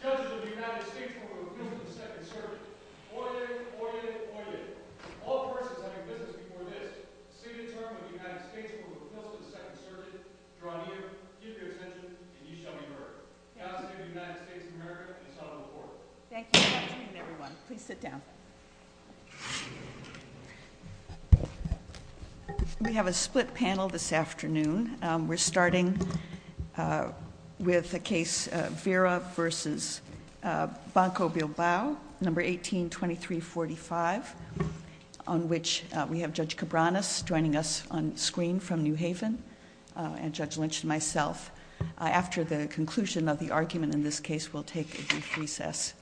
Council of the United States for Proposing the Second Circuit Order, order, order, all parties are having business before this. This is a term of the United States for proposing the second circuit. You're all here, keep your attention, and each other heard. Happy New United States of America and the Son of the Lord. We have a split panel this afternoon. We're starting with the case Vera v. Banco-Bilbao, number 182345, on which we have Judge Cabranes joining us on screen from New Haven, and Judge Lynch and myself. After the conclusion of the argument in this case, we'll take a brief recess,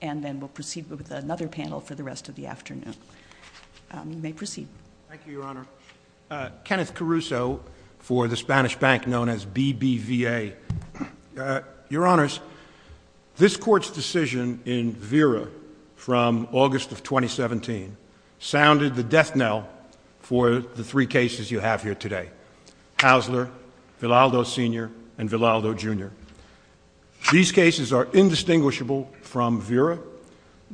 and then we'll proceed with another panel for the rest of the afternoon. You may proceed. Thank you, Your Honor. Kenneth Caruso for the Spanish bank known as BBVA. Your Honors, this Court's decision in Vera from August of 2017 sounded the death knell for the three cases you have here today, Haussler, Vidaldo Sr., and Vidaldo Jr. These cases are indistinguishable from Vera.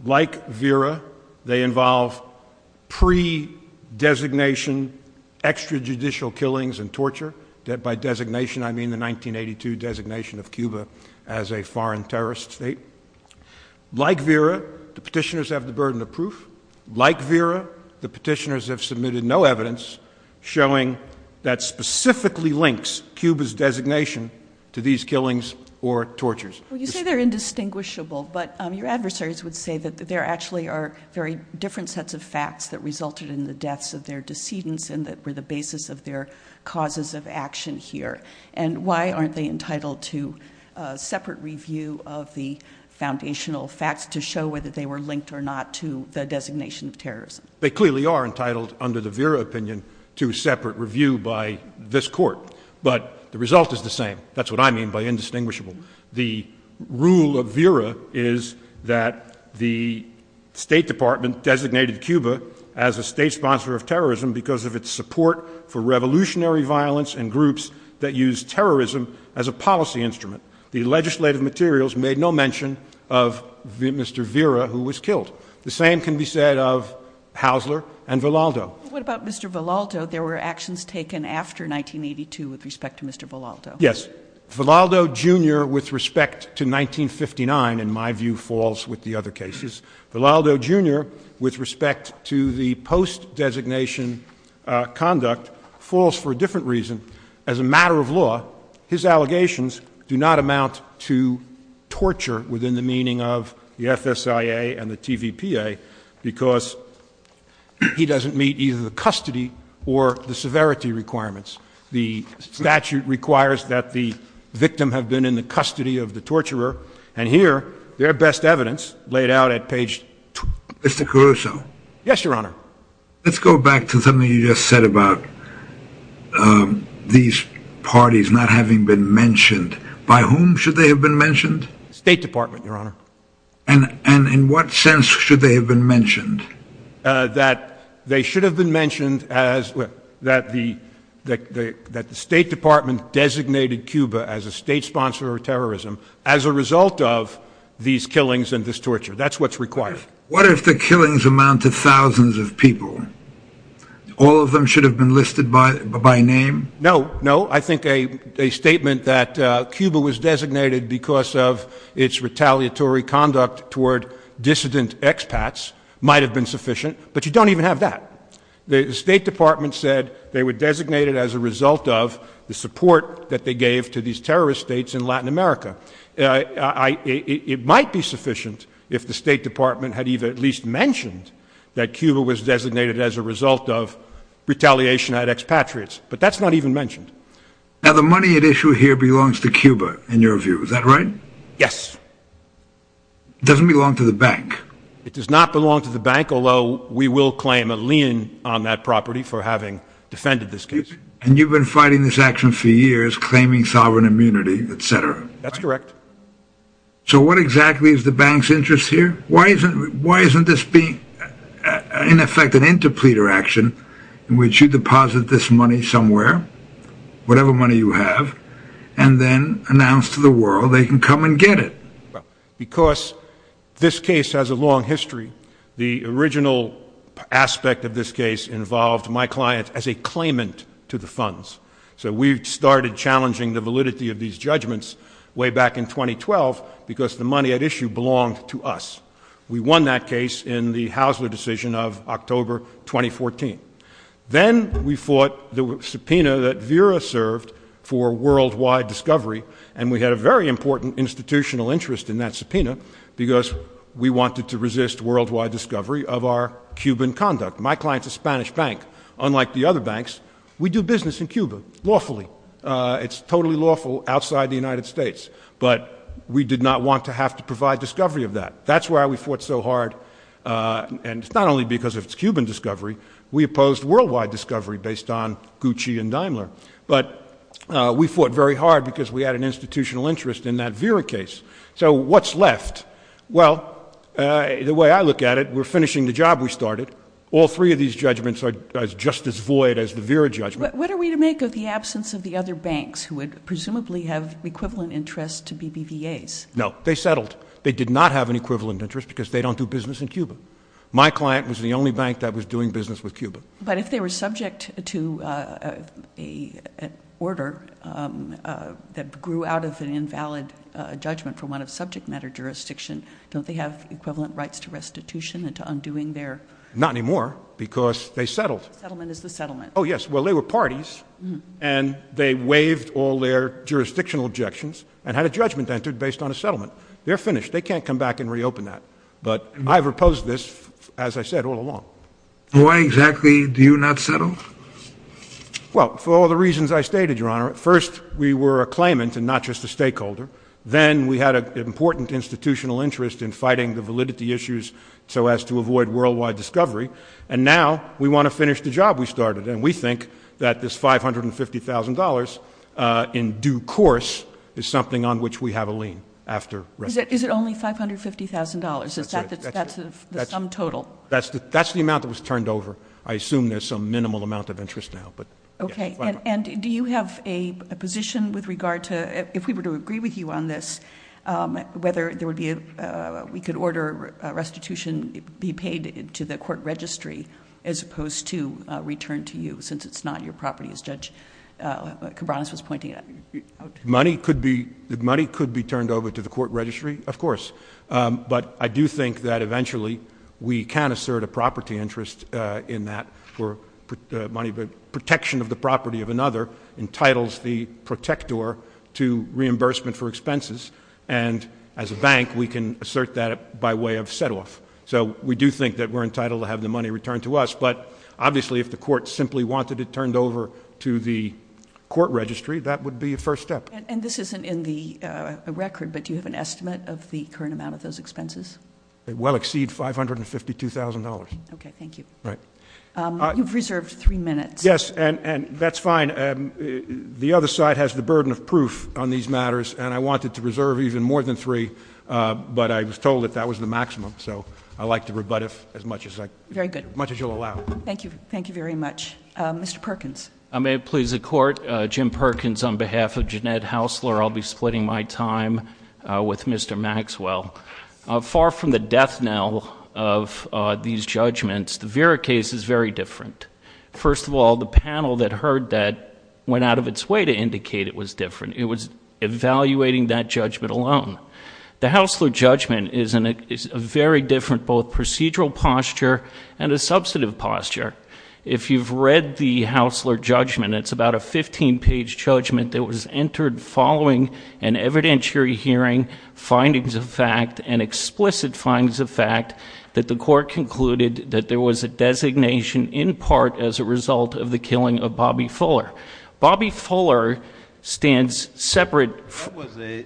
Like Vera, they involve pre-designation extrajudicial killings and torture. By designation, I mean the 1982 designation of Cuba as a foreign terrorist state. Like Vera, the petitioners have the burden of proof. Like Vera, the petitioners have submitted no evidence showing that specifically links Cuba's designation to these killings or tortures. Well, you say they're indistinguishable, but your adversaries would say that there actually are very different sets of facts that resulted in the deaths of their decedents and that were the basis of their causes of action here. And why aren't they entitled to a separate review of the foundational facts to show whether they were linked or not to the designation of terrorism? They clearly are entitled, under the Vera opinion, to a separate review by this Court. But the result is the same. That's what I mean by indistinguishable. The rule of Vera is that the State Department designated Cuba as a state sponsor of terrorism because of its support for revolutionary violence and groups that use terrorism as a policy instrument. The legislative materials made no mention of Mr. Vera, who was killed. The same can be said of Haussler and Vidaldo. What about Mr. Vidaldo? There were actions taken after 1982 with respect to Mr. Vidaldo. Yes. Vidaldo, Jr., with respect to 1959, in my view, falls with the other cases. Vidaldo, Jr., with respect to the post-designation conduct, falls for a different reason. As a matter of law, his allegations do not amount to torture within the meaning of the FSIA and the TVPA because he doesn't meet either the custody or the severity requirements. The statute requires that the victim have been in the custody of the torturer, and here, their best evidence, laid out at page 22. Mr. Caruso. Yes, Your Honor. Let's go back to something you just said about these parties not having been mentioned. By whom should they have been mentioned? State Department, Your Honor. And in what sense should they have been mentioned? That they should have been mentioned as, that the State Department designated Cuba as a state sponsor of terrorism as a result of these killings and this torture. That's what's required. What if the killings amounted to thousands of people? All of them should have been listed by name? No, no. I think a statement that Cuba was designated because of its retaliatory conduct toward dissident expats might have been sufficient, but you don't even have that. The State Department said they were designated as a result of the support that they gave to these terrorist states in Latin America. It might be sufficient if the State Department had at least mentioned that Cuba was designated as a result of retaliation at expatriates, but that's not even mentioned. Now, the money at issue here belongs to Cuba, in your view. Is that right? Yes. It doesn't belong to the bank. It does not belong to the bank, although we will claim a lien on that property for having defended this case. And you've been fighting this action for years, claiming sovereign immunity, etc. That's correct. So what exactly is the bank's interest here? Why isn't this being, in effect, an interpleader action in which you deposit this money somewhere, whatever money you have, and then announce to the world they can come and get it? Because this case has a long history. The original aspect of this case involved my client as a claimant to the funds. So we started challenging the validity of these judgments way back in 2012 because the money at issue belonged to us. We won that case in the Haussler decision of October 2014. Then we fought the subpoena that Vera served for worldwide discovery, and we had a very important institutional interest in that subpoena because we wanted to resist worldwide discovery of our Cuban conduct. My client's a Spanish bank. Unlike the other banks, we do business in Cuba lawfully. It's totally lawful outside the United States, but we did not want to have to provide discovery of that. That's why we fought so hard, and not only because of its Cuban discovery. We opposed worldwide discovery based on Gucci and Daimler. But we fought very hard because we had an institutional interest in that Vera case. So what's left? Well, the way I look at it, we're finishing the job we started. All three of these judgments are just as void as the Vera judgment. What are we to make of the absence of the other banks who would presumably have equivalent interest to BBVA? No, they settled. They did not have an equivalent interest because they don't do business in Cuba. My client was the only bank that was doing business with Cuba. But if they were subject to an order that grew out of an invalid judgment for one of subject matter jurisdiction, don't they have equivalent rights to restitution and to undoing their... Not anymore, because they settled. Settlement is the settlement. Oh, yes. Well, they were parties, and they waived all their jurisdictional objections and had a judgment entered based on a settlement. They're finished. They can't come back and reopen that. But I've opposed this, as I said, all along. Why exactly do you not settle? Well, for all the reasons I stated, Your Honor. First, we were a claimant and not just a stakeholder. Then we had an important institutional interest in fighting the validity issues so as to avoid worldwide discovery. And now we want to finish the job we started. And we think that this $550,000 in due course is something on which we have a lien after restitution. Is it only $550,000? That's it. That's the sum total? That's the amount that was turned over. I assume there's some minimal amount of interest now. Okay. And do you have a position with regard to, if we were to agree with you on this, whether we could order restitution be paid to the court registry as opposed to return to you, since it's not your property, as Judge Cabranes was pointing out? Money could be turned over to the court registry, of course. But I do think that eventually we can assert a property interest in that for money. The protection of the property of another entitles the protector to reimbursement for expenses. And as a bank, we can assert that by way of set-off. So we do think that we're entitled to have the money returned to us. But obviously if the court simply wanted it turned over to the court registry, that would be a first step. And this isn't in the record, but do you have an estimate of the current amount of those expenses? It will exceed $552,000. Okay. Thank you. You've reserved three minutes. Yes, and that's fine. The other side has the burden of proof on these matters, and I wanted to reserve even more than three, but I was told that that was the maximum, so I like to rebut as much as I can. Very good. As much as you'll allow. Thank you. Thank you very much. Mr. Perkins. May it please the Court, Jim Perkins on behalf of Jeanette Hausler. I'll be splitting my time with Mr. Maxwell. Far from the death knell of these judgments, the Vera case is very different. First of all, the panel that heard that went out of its way to indicate it was different. It was evaluating that judgment alone. The Hausler judgment is a very different both procedural posture and a substantive posture. If you've read the Hausler judgment, it's about a 15-page judgment that was entered following an evidentiary hearing, findings of fact, and explicit findings of fact that the Court concluded that there was a designation in part as a result of the killing of Bobby Fuller. Bobby Fuller stands separate.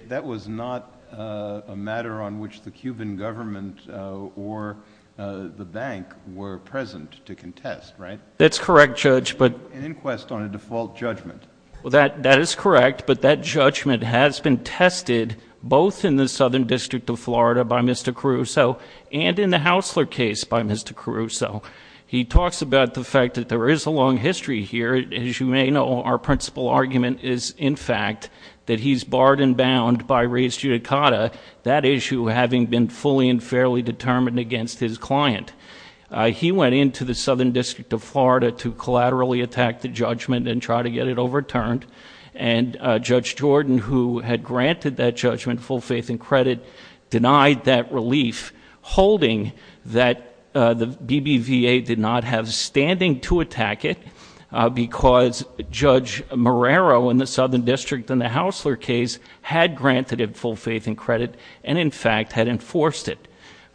That was not a matter on which the Cuban government or the bank were present to contest, right? That's correct, Judge. An inquest on a default judgment. That is correct, but that judgment has been tested both in the Southern District of Florida by Mr. Caruso and in the Hausler case by Mr. Caruso. He talks about the fact that there is a long history here. As you may know, our principal argument is, in fact, that he's barred and bound by res judicata, that issue having been fully and fairly determined against his client. He went into the Southern District of Florida to collaterally attack the judgment and try to get it overturned, and Judge Jordan, who had granted that judgment full faith and credit, denied that relief, holding that the BBVA did not have standing to attack it because Judge Marrero in the Southern District in the Hausler case had granted it full faith and credit and, in fact, had enforced it.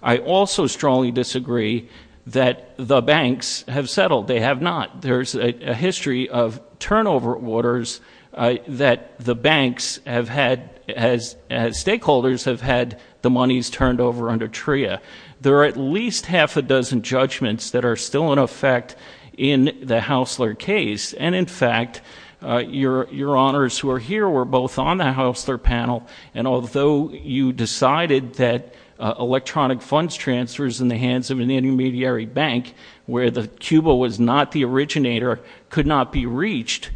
I also strongly disagree that the banks have settled. They have not. There's a history of turnover orders that the banks have had, as stakeholders have had the monies turned over under TRIA. There are at least half a dozen judgments that are still in effect in the Hausler case, and, in fact, your honors who are here were both on the Hausler panel, and although you decided that electronic funds transfers in the hands of an intermediary bank where Cuba was not the originator could not be reached,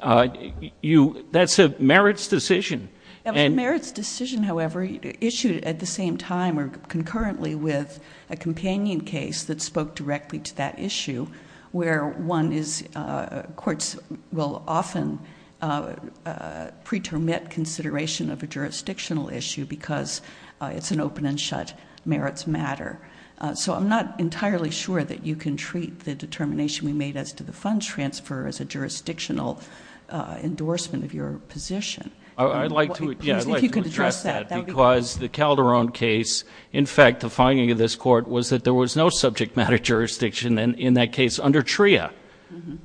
that's a merits decision. A merits decision, however, issued at the same time or concurrently with a companion case that spoke directly to that issue where courts will often pretermit consideration of a jurisdictional issue because it's an open and shut merits matter. So I'm not entirely sure that you can treat the determination we made as to the funds transfer as a jurisdictional endorsement of your position. I'd like to address that because the Calderon case, in fact, the finding of this court, was that there was no subject matter jurisdiction in that case under TRIA.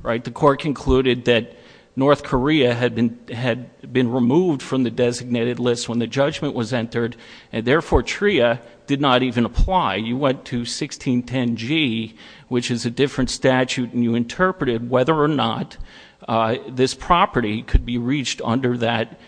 The court concluded that North Korea had been removed from the designated list when the judgment was entered, and, therefore, TRIA did not even apply. You went to 1610G, which is a different statute, and you interpreted whether or not this property could be reached under that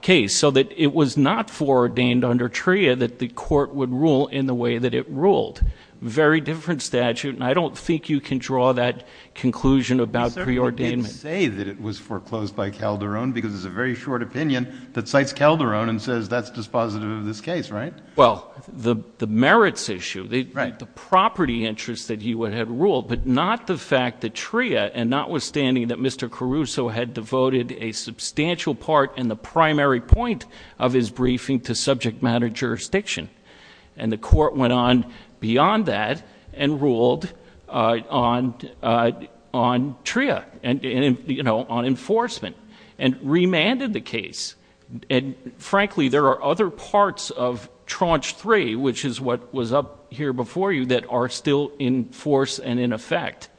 case so that it was not foreordained under TRIA that the court would rule in the way that it ruled. Very different statute, and I don't think you can draw that conclusion about preordainment. You can't say that it was foreclosed by Calderon because it's a very short opinion that cites Calderon and says that's dispositive of this case, right? Well, the merits issue, the property interest that he had ruled, but not the fact that TRIA, and notwithstanding that Mr. Caruso had devoted a substantial part in the primary point of his briefing to subject matter jurisdiction, and the court went on beyond that and ruled on TRIA, on enforcement, and remanded the case. And, frankly, there are other parts of tranche three, which is what was up here before you, that are still in force and in effect,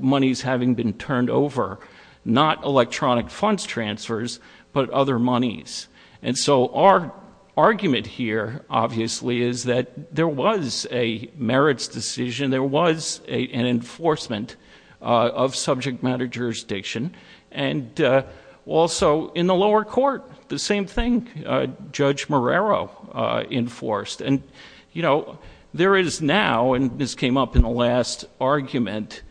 monies having been turned over, not electronic funds transfers, but other monies. And so our argument here, obviously, is that there was a merits decision, and there was an enforcement of subject matter jurisdiction. And also in the lower court, the same thing, Judge Marrero enforced. And, you know, there is now, and this came up in the last argument,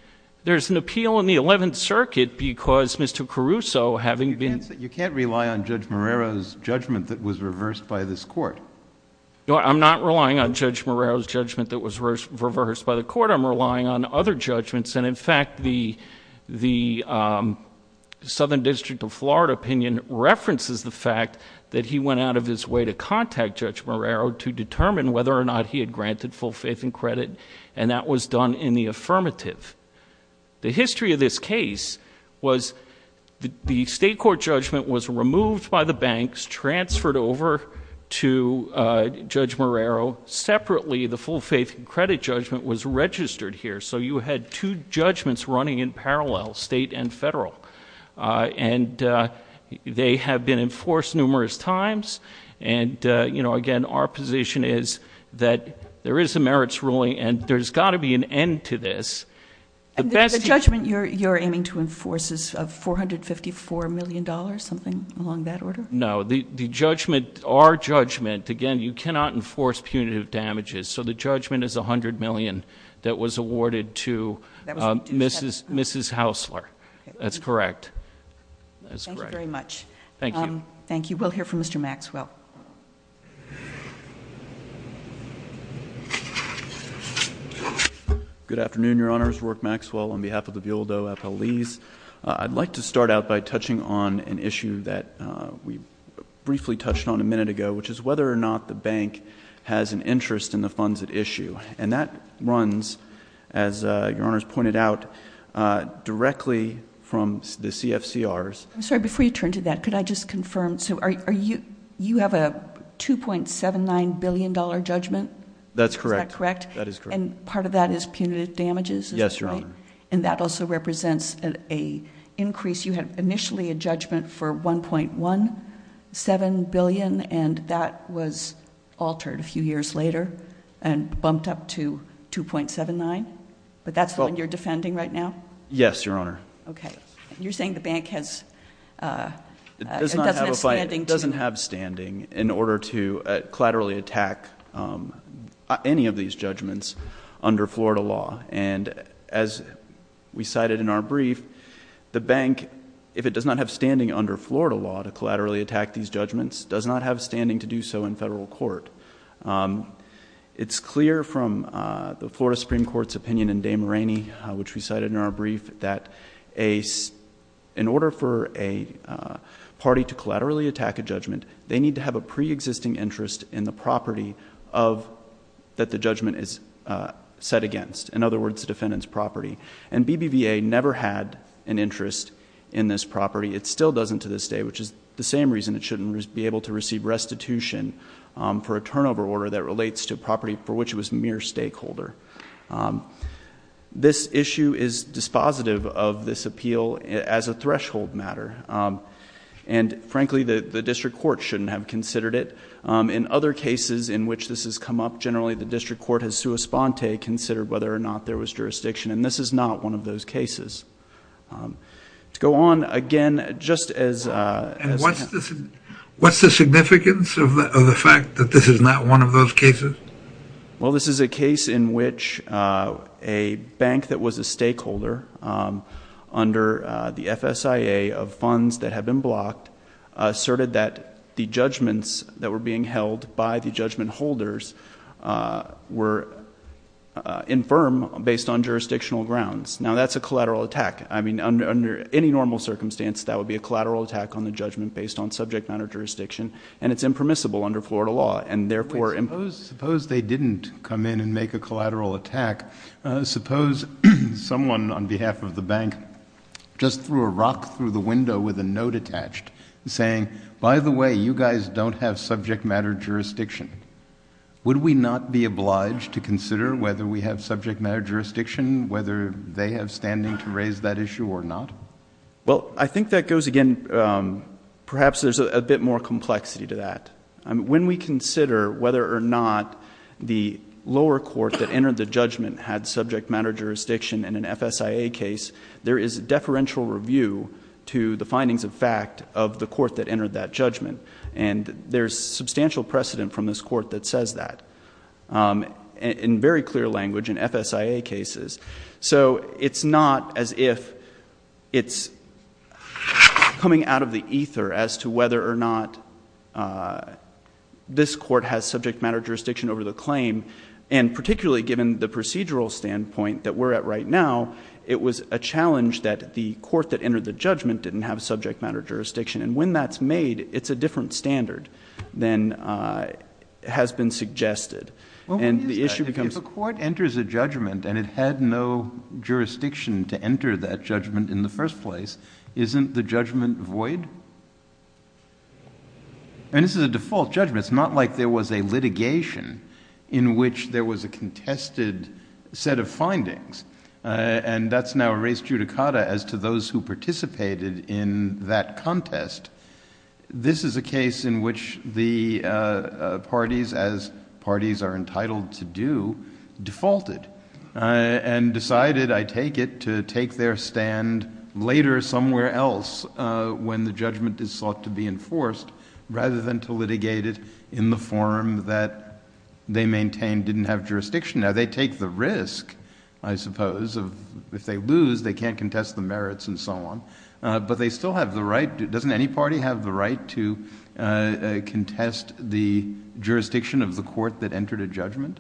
there's an appeal in the Eleventh Circuit because Mr. Caruso, having been ---- You can't rely on Judge Marrero's judgment that was reversed by this court. No, I'm not relying on Judge Marrero's judgment that was reversed by the court. I'm relying on other judgments, and, in fact, the Southern District of Florida opinion references the fact that he went out of his way to contact Judge Marrero to determine whether or not he had granted full faith and credit, and that was done in the affirmative. The history of this case was the state court judgment was removed by the banks, was transferred over to Judge Marrero. Separately, the full faith and credit judgment was registered here. So you had two judgments running in parallel, state and federal. And they have been enforced numerous times. And, you know, again, our position is that there is a merits ruling, and there's got to be an end to this. The judgment you're aiming to enforce is $454 million, something along that order? No. The judgment, our judgment, again, you cannot enforce punitive damages. So the judgment is $100 million that was awarded to Mrs. Haussler. That's correct. Thank you very much. Thank you. Thank you. We'll hear from Mr. Maxwell. Good afternoon, Your Honors. Rourke Maxwell on behalf of the Bealdo FLEs. I'd like to start out by touching on an issue that we briefly touched on a minute ago, which is whether or not the bank has an interest in the funds at issue. And that runs, as Your Honors pointed out, directly from the CFCRs. I'm sorry. Before you turn to that, could I just confirm, so you have a $2.79 billion judgment? That's correct. Is that correct? That is correct. And part of that is punitive damages? Yes, Your Honor. And that also represents an increase. You had initially a judgment for $1.17 billion, and that was altered a few years later and bumped up to $2.79? But that's what you're defending right now? Yes, Your Honor. Okay. You're saying the bank has— It doesn't have standing in order to collaterally attack any of these judgments under Florida law. And as we cited in our brief, the bank, if it does not have standing under Florida law to collaterally attack these judgments, does not have standing to do so in federal court. It's clear from the Florida Supreme Court's opinion in Dame Rainey, which we cited in our brief, that in order for a party to collaterally attack a judgment, they need to have a preexisting interest in the property that the judgment is set against. In other words, the defendant's property. And BBVA never had an interest in this property. It still doesn't to this day, which is the same reason it shouldn't be able to receive restitution for a turnover order that relates to property for which it was a mere stakeholder. This issue is dispositive of this appeal as a threshold matter. And frankly, the district court shouldn't have considered it. In other cases in which this has come up, generally the district court has sua sponte, considered whether or not there was jurisdiction. And this is not one of those cases. To go on again, just as— And what's the significance of the fact that this is not one of those cases? Well, this is a case in which a bank that was a stakeholder under the FSIA of funds that have been blocked asserted that the judgments that were being held by the judgment holders were infirm based on jurisdictional grounds. Now, that's a collateral attack. I mean, under any normal circumstance, that would be a collateral attack on the judgment based on subject matter jurisdiction. And it's impermissible under Florida law. And therefore— Suppose they didn't come in and make a collateral attack. Suppose someone on behalf of the bank just threw a rock through the window with a note attached saying, by the way, you guys don't have subject matter jurisdiction. Would we not be obliged to consider whether we have subject matter jurisdiction, whether they have standing to raise that issue or not? Well, I think that goes again—perhaps there's a bit more complexity to that. When we consider whether or not the lower court that entered the judgment had subject matter jurisdiction in an FSIA case, there is deferential review to the findings of fact of the court that entered that judgment. And there's substantial precedent from this court that says that in very clear language in FSIA cases. So it's not as if it's coming out of the ether as to whether or not this court has subject matter jurisdiction over the claim. And particularly given the procedural standpoint that we're at right now, it was a challenge that the court that entered the judgment didn't have subject matter jurisdiction. And when that's made, it's a different standard than has been suggested. If a court enters a judgment and it had no jurisdiction to enter that judgment in the first place, isn't the judgment void? And this is a default judgment. It's not like there was a litigation in which there was a contested set of findings. And that's now a res judicata as to those who participated in that contest. This is a case in which the parties, as parties are entitled to do, defaulted, and decided, I take it, to take their stand later somewhere else when the judgment is sought to be enforced, rather than to litigate it in the form that they maintain didn't have jurisdiction. Now, they take the risk, I suppose, of if they lose, they can't contest the merits and so on. But they still have the right. Doesn't any party have the right to contest the jurisdiction of the court that entered a judgment?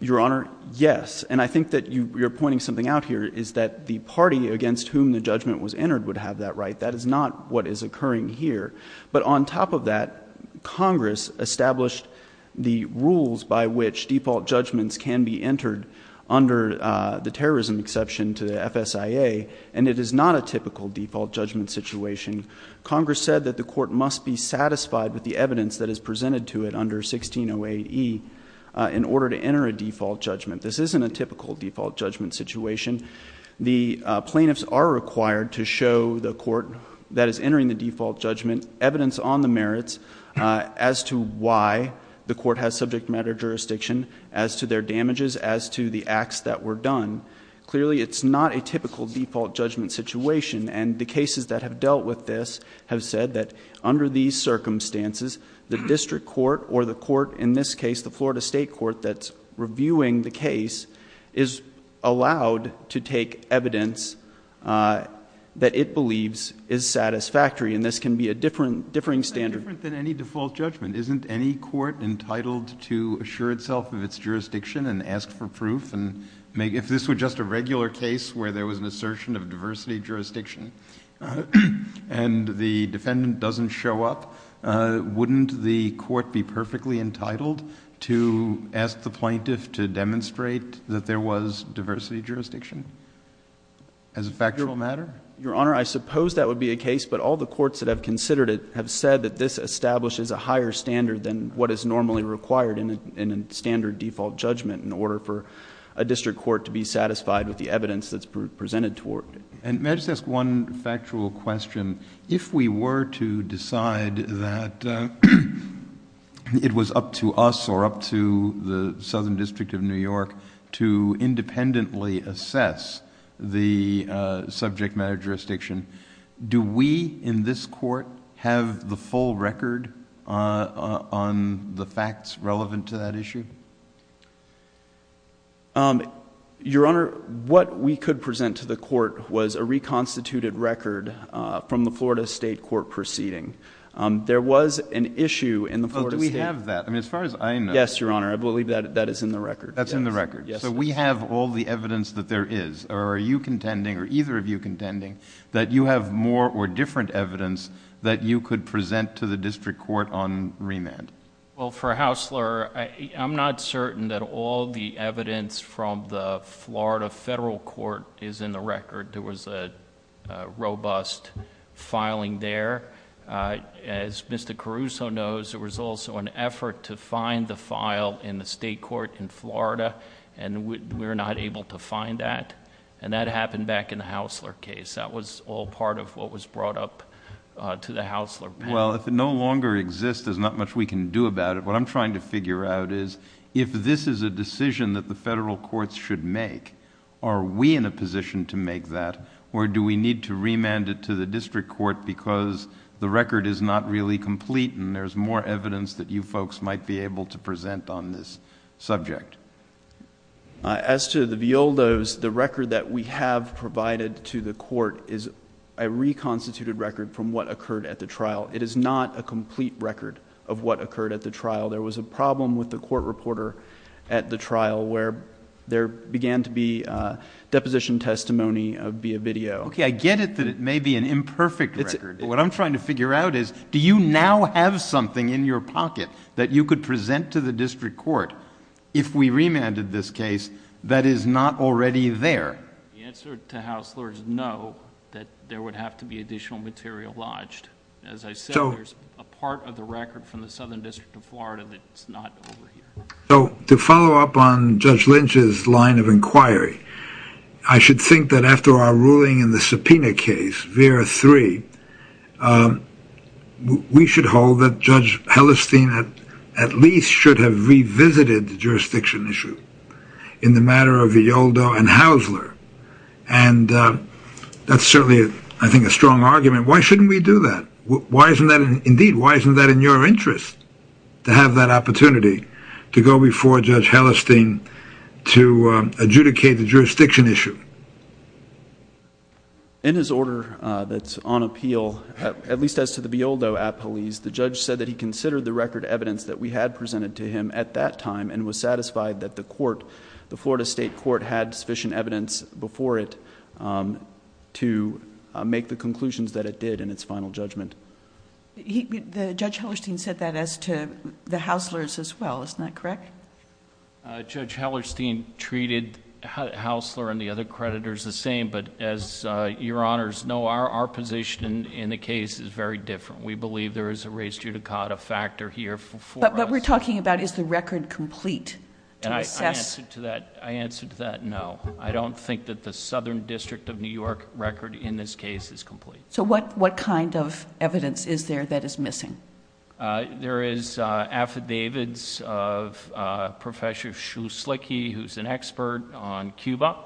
Your Honor, yes. And I think that you're pointing something out here is that the party against whom the judgment was entered would have that right. That is not what is occurring here. But on top of that, Congress established the rules by which default judgments can be entered under the terrorism exception to FSIA. And it is not a typical default judgment situation. Congress said that the court must be satisfied with the evidence that is presented to it under 1608E in order to enter a default judgment. This isn't a typical default judgment situation. The plaintiffs are required to show the court that is entering the default judgment evidence on the merits as to why the court has subject matter jurisdiction, as to their damages, as to the acts that were done. Clearly, it's not a typical default judgment situation. And the cases that have dealt with this have said that under these circumstances, the district court or the court in this case, the Florida State Court that's reviewing the case, is allowed to take evidence that it believes is satisfactory. And this can be a differing standard. It's different than any default judgment. Isn't any court entitled to assure itself of its jurisdiction and ask for proof? And if this were just a regular case where there was an assertion of diversity jurisdiction and the defendant doesn't show up, wouldn't the court be perfectly entitled to ask the plaintiff to demonstrate that there was diversity jurisdiction as a factual matter? Your Honor, I suppose that would be a case, but all the courts that have considered it have said that this establishes a higher standard than what is normally required in a standard default judgment in order for a district court to be satisfied with the evidence that's presented to it. And may I just ask one factual question? If we were to decide that it was up to us or up to the Southern District of New York to independently assess the subject matter jurisdiction, do we in this court have the full record on the facts relevant to that issue? Your Honor, what we could present to the court was a reconstituted record from the Florida State Court proceeding. There was an issue in the Florida State Court. But do we have that? I mean, as far as I know. Yes, Your Honor. I believe that that is in the record. That's in the record. So we have all the evidence that there is. Are you contending or either of you contending that you have more or different evidence that you could present to the district court on remand? Well, for Haussler, I'm not certain that all the evidence from the Florida Federal Court is in the record. There was a robust filing there. As Mr. Caruso knows, there was also an effort to find the file in the state court in Florida, and we were not able to find that. And that happened back in the Haussler case. That was all part of what was brought up to the Haussler panel. Well, if it no longer exists, there's not much we can do about it. What I'm trying to figure out is if this is a decision that the federal courts should make, are we in a position to make that, or do we need to remand it to the district court because the record is not really complete and there's more evidence that you folks might be able to present on this subject? As to the Violdos, the record that we have provided to the court is a reconstituted record from what occurred at the trial. It is not a complete record of what occurred at the trial. There was a problem with the court reporter at the trial where there began to be deposition testimony via video. Okay, I get it that it may be an imperfect record. What I'm trying to figure out is do you now have something in your pocket that you could present to the district court if we remanded this case that is not already there? The answer to Haussler is no, that there would have to be additional material lodged. As I said, there's a part of the record from the Southern District of Florida that's not over here. So to follow up on Judge Lynch's line of inquiry, I should think that after our ruling in the subpoena case, we should hold that Judge Hellestein at least should have revisited the jurisdiction issue in the matter of Violdo and Haussler. That's certainly, I think, a strong argument. Why shouldn't we do that? Indeed, why isn't that in your interest to have that opportunity to go before Judge Hellestein to adjudicate the jurisdiction issue? In his order that's on appeal, at least as to the Violdo appellees, the judge said that he considered the record evidence that we had presented to him at that time and was satisfied that the court, the Florida State Court, had sufficient evidence before it to make the conclusions that it did in its final judgment. Judge Hellestein said that as to the Hausslers as well, isn't that correct? Judge Hellestein treated Haussler and the other creditors the same, but as your honors know, our position in the case is very different. We believe there is a race judicata factor here. But what we're talking about is the record complete. And I answer to that, no. I don't think that the Southern District of New York record in this case is complete. So what kind of evidence is there that is missing? There is affidavits of Professor Shu Slickey, who's an expert on Cuba.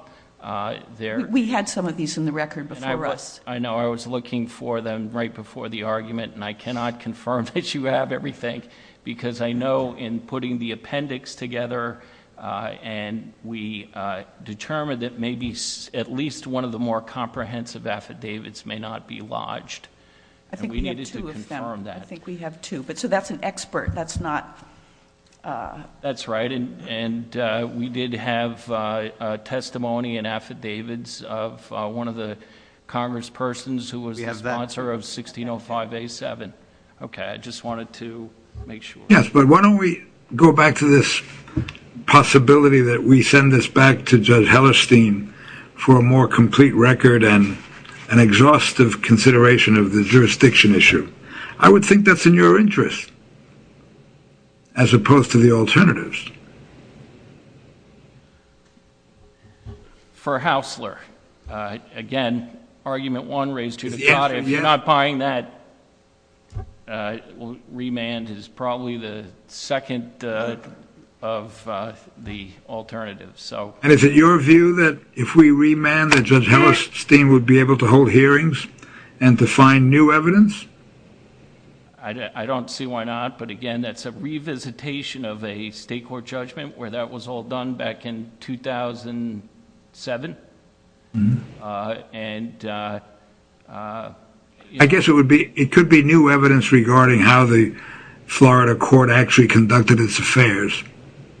We had some of these in the record before us. I know. I was looking for them right before the argument, and I cannot confirm that you have everything because I know in putting the appendix together and we determined that maybe at least one of the more comprehensive affidavits may not be lodged. I think we have two of them. I think we have two. So that's an expert. That's not... That's right. And we did have testimony and affidavits of one of the congresspersons who was a sponsor of 1605A7. Okay. I just wanted to make sure. Yes. But why don't we go back to this possibility that we send this back to Judge Hellestein for a more complete record and an exhaustive consideration of the jurisdiction issue? I would think that's in your interest as opposed to the alternatives. For Haussler, again, argument one raised to the contrary. If you're not buying that, remand is probably the second of the alternatives. And is it your view that if we remand that Judge Hellestein would be able to hold hearings and to find new evidence? I don't see why not. But, again, that's a revisitation of a state court judgment where that was all done back in 2007. I guess it could be new evidence regarding how the Florida court actually conducted its affairs.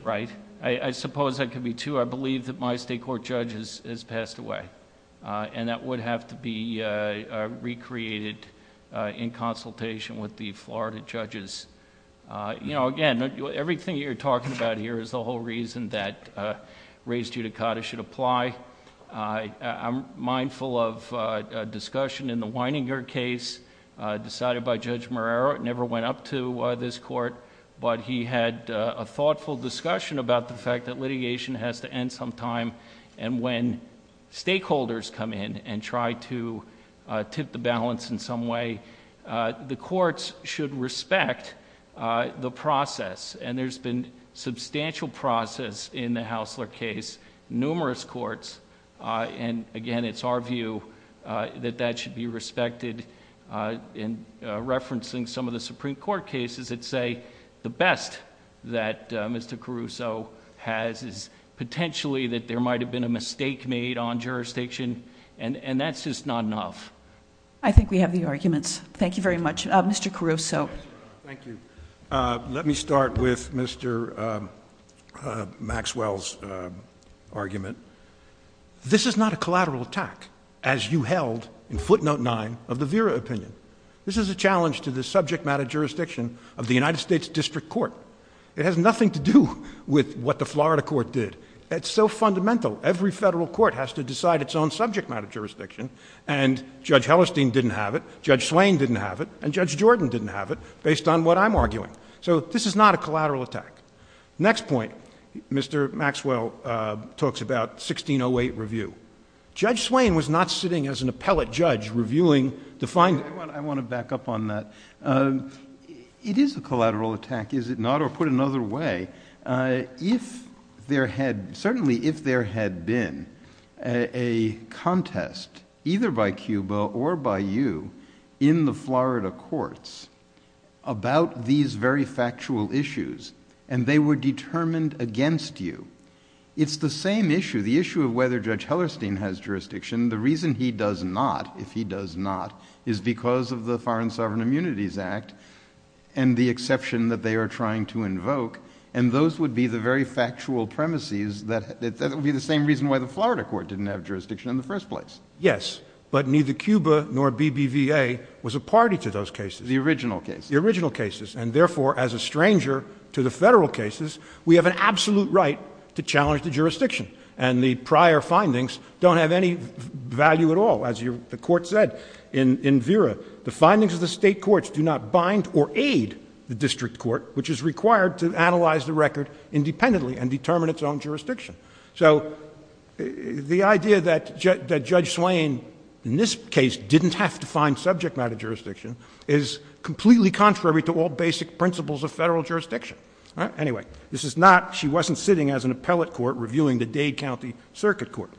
Right. I suppose that could be, too. I believe that my state court judge has passed away. And that would have to be recreated in consultation with the Florida judges. Again, everything you're talking about here is the whole reason that raised judicata should apply. I'm mindful of a discussion in the Weininger case decided by Judge Marrero. It never went up to this court. But he had a thoughtful discussion about the fact that litigation has to end sometime. And when stakeholders come in and try to tip the balance in some way, the courts should respect the process. And there's been substantial process in the Haussler case, numerous courts. And, again, it's our view that that should be respected. Referencing some of the Supreme Court cases that say the best that Mr. Caruso has is potentially that there might have been a mistake made on jurisdiction. And that's just not enough. I think we have the arguments. Thank you very much. Mr. Caruso. Thank you. Let me start with Mr. Maxwell's argument. This is not a collateral attack, as you held in footnote 9 of the Vera opinion. This is a challenge to the subject matter jurisdiction of the United States District Court. It has nothing to do with what the Florida court did. It's so fundamental. Every federal court has to decide its own subject matter jurisdiction. And Judge Hellestein didn't have it. Judge Swain didn't have it. And Judge Jordan didn't have it, based on what I'm arguing. So this is not a collateral attack. Next point. Mr. Maxwell talks about 1608 review. Judge Swain was not sitting as an appellate judge reviewing the findings. I want to back up on that. It is a collateral attack, is it not? Or put another way, if there had been a contest, either by Cuba or by you, in the Florida courts, about these very factual issues and they were determined against you. It's the same issue, the issue of whether Judge Hellestein has jurisdiction. The reason he does not, if he does not, is because of the Foreign Sovereign Immunities Act and the exception that they are trying to invoke. And those would be the very factual premises. That would be the same reason why the Florida court didn't have jurisdiction in the first place. Yes, but neither Cuba nor BBVA was a party to those cases, the original cases. And therefore, as a stranger to the federal cases, we have an absolute right to challenge the jurisdiction. And the prior findings don't have any value at all. As the court said in Vera, the findings of the state courts do not bind or aid the district court, which is required to analyze the record independently and determine its own jurisdiction. So the idea that Judge Swain, in this case, didn't have to find subject matter jurisdiction is completely contrary to all basic principles of federal jurisdiction. Anyway, this is not, she wasn't sitting as an appellate court reviewing the Dade County Circuit Court.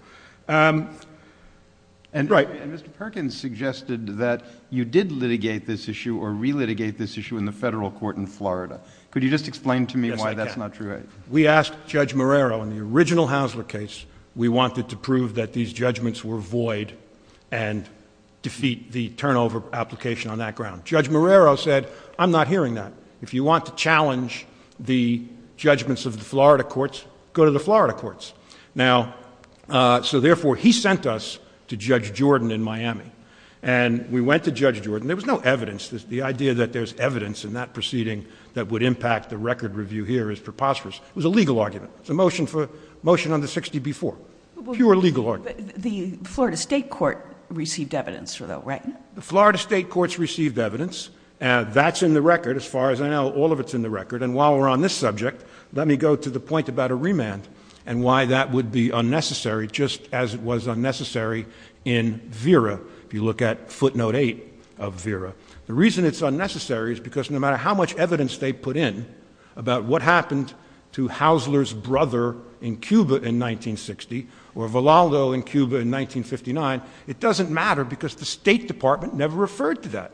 And right. And Mr. Perkins suggested that you did litigate this issue or re-litigate this issue in the federal court in Florida. Could you just explain to me why that's not true? We asked Judge Marrero in the original Hasler case, we wanted to prove that these judgments were void and defeat the turnover application on that ground. Judge Marrero said, I'm not hearing that. If you want to challenge the judgments of the Florida courts, go to the Florida courts. Now, so therefore, he sent us to Judge Jordan in Miami. And we went to Judge Jordan. There was no evidence. The idea that there's evidence in that proceeding that would impact the record review here is preposterous. It was a legal argument. It's a motion for motion under 60B-4. Pure legal argument. The Florida state court received evidence, though, right? The Florida state courts received evidence. That's in the record, as far as I know. All of it's in the record. And while we're on this subject, let me go to the point about a remand and why that would be unnecessary, just as it was unnecessary in VERA, if you look at footnote 8 of VERA. The reason it's unnecessary is because no matter how much evidence they put in about what happened to Haussler's brother in Cuba in 1960, or Valado in Cuba in 1959, it doesn't matter because the State Department never referred to that.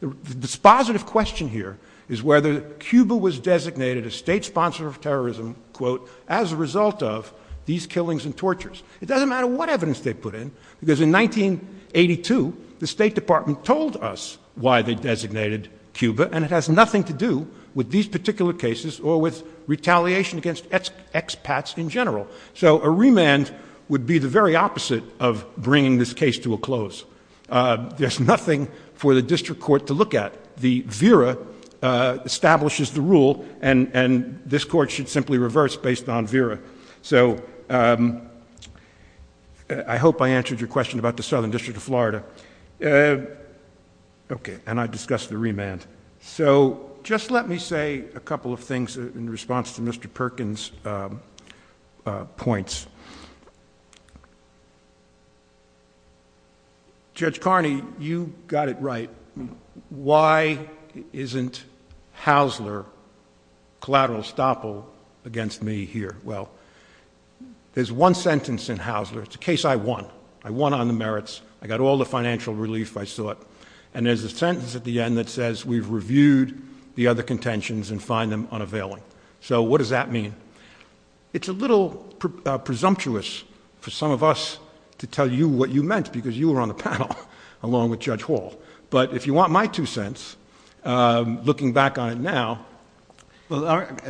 The dispositive question here is whether Cuba was designated a state sponsor of terrorism, quote, as a result of these killings and tortures. It doesn't matter what evidence they put in because in 1982, the State Department told us why they designated Cuba, and it has nothing to do with these particular cases or with retaliation against expats in general. So a remand would be the very opposite of bringing this case to a close. There's nothing for the district court to look at. The VERA establishes the rule, and this court should simply reverse based on VERA. So I hope I answered your question about the Southern District of Florida. Okay, and I discussed the remand. So just let me say a couple of things in response to Mr. Perkins' points. Judge Carney, you got it right. Why isn't Haussler collateral estoppel against me here? Well, there's one sentence in Haussler. It's a case I won. I won on the merits. I got all the financial relief I sought. And there's a sentence at the end that says we've reviewed the other contentions and find them unavailable. So what does that mean? It's a little presumptuous for some of us to tell you what you meant because you were on the panel along with Judge Hall. But if you want my two cents, looking back on it now.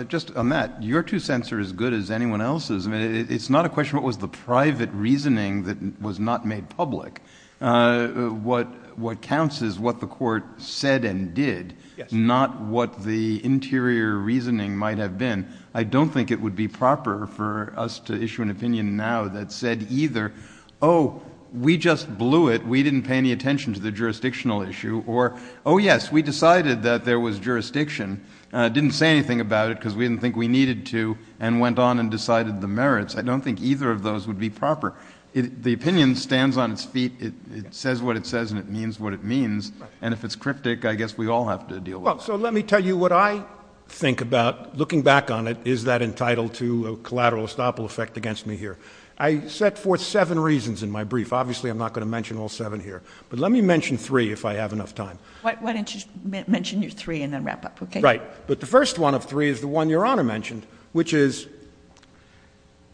Just on that, your two cents are as good as anyone else's. It's not a question of what was the private reasoning that was not made public. What counts is what the court said and did, not what the interior reasoning might have been. I don't think it would be proper for us to issue an opinion now that said either, oh, we just blew it. We didn't pay any attention to the jurisdictional issue. Or, oh, yes, we decided that there was jurisdiction. Didn't say anything about it because we didn't think we needed to and went on and decided the merits. I don't think either of those would be proper. The opinion stands on its feet. It says what it says and it means what it means. And if it's cryptic, I guess we all have to deal with it. So let me tell you what I think about looking back on it. Is that entitled to collateral estoppel effect against me here? I set forth seven reasons in my brief. Obviously I'm not going to mention all seven here. But let me mention three if I have enough time. Why don't you mention your three and then wrap up, okay? Right. But the first one of three is the one Your Honor mentioned, which is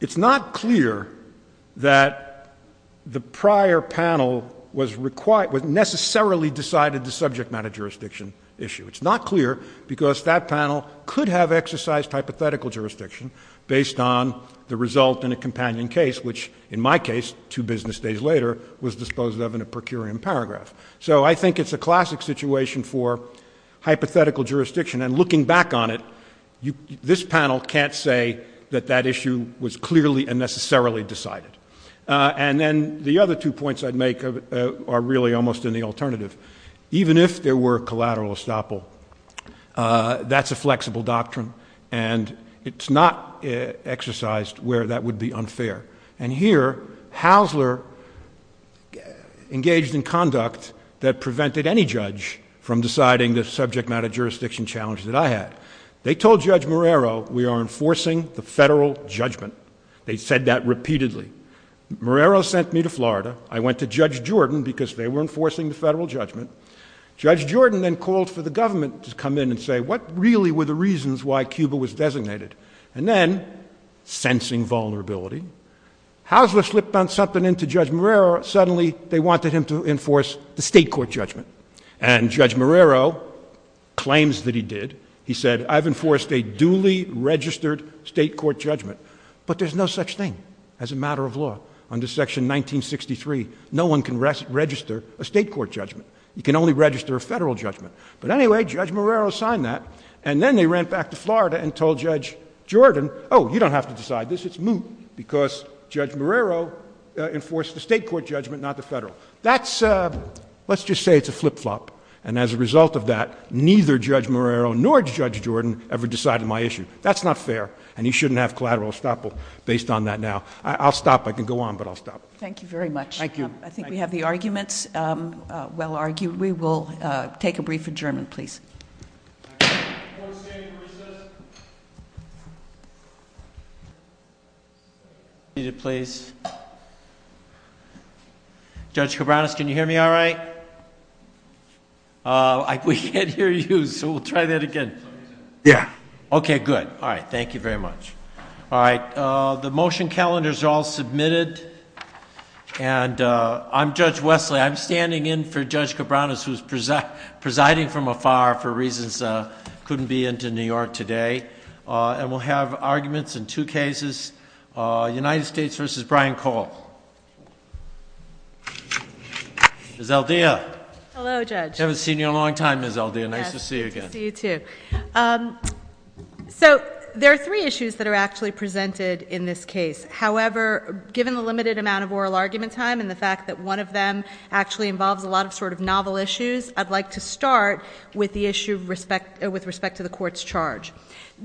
it's not clear that the prior panel was required necessarily decided the subject matter jurisdiction issue. It's not clear because that panel could have exercised hypothetical jurisdiction based on the result in a companion case, which in my case, two business days later, was disposed of in a per curiam paragraph. So I think it's a classic situation for hypothetical jurisdiction. And looking back on it, this panel can't say that that issue was clearly and necessarily decided. And then the other two points I'd make are really almost in the alternative. Even if there were collateral estoppel, that's a flexible doctrine and it's not exercised where that would be unfair. And here, Haussler engaged in conduct that prevented any judge from deciding the subject matter jurisdiction challenge that I had. They told Judge Marrero we are enforcing the federal judgment. They said that repeatedly. Marrero sent me to Florida. I went to Judge Jordan because they were enforcing the federal judgment. Judge Jordan then called for the government to come in and say what really were the reasons why Cuba was designated. And then, sensing vulnerability, Haussler slipped on something into Judge Marrero. Suddenly, they wanted him to enforce the state court judgment. And Judge Marrero claims that he did. He said, I've enforced a duly registered state court judgment. But there's no such thing as a matter of law. Under Section 1963, no one can register a state court judgment. You can only register a federal judgment. But anyway, Judge Marrero signed that. And then they ran back to Florida and told Judge Jordan, oh, you don't have to decide this. It's moot because Judge Marrero enforced the state court judgment, not the federal. Let's just say it's a flip-flop. And as a result of that, neither Judge Marrero nor Judge Jordan ever decided my issue. That's not fair, and he shouldn't have collateral estoppel based on that now. I'll stop. Thank you very much. Thank you. I think we have the arguments well argued. We will take a brief adjournment, please. Judge Cabreras, can you hear me all right? We can't hear you, so we'll try that again. Yeah. Okay, good. All right. Thank you very much. All right. The motion calendars are all submitted, and I'm Judge Wesley. I'm standing in for Judge Cabreras, who's presiding from afar for reasons that couldn't be into New York today. And we'll have arguments in two cases, United States v. Brian Cole. Ms. Aldea. Hello, Judge. Haven't seen you in a long time, Ms. Aldea. Nice to see you again. Nice to see you, too. So there are three issues that are actually presented in this case. However, given the limited amount of oral argument time and the fact that one of them actually involves a lot of sort of novel issues, I'd like to start with the issue with respect to the court's charge.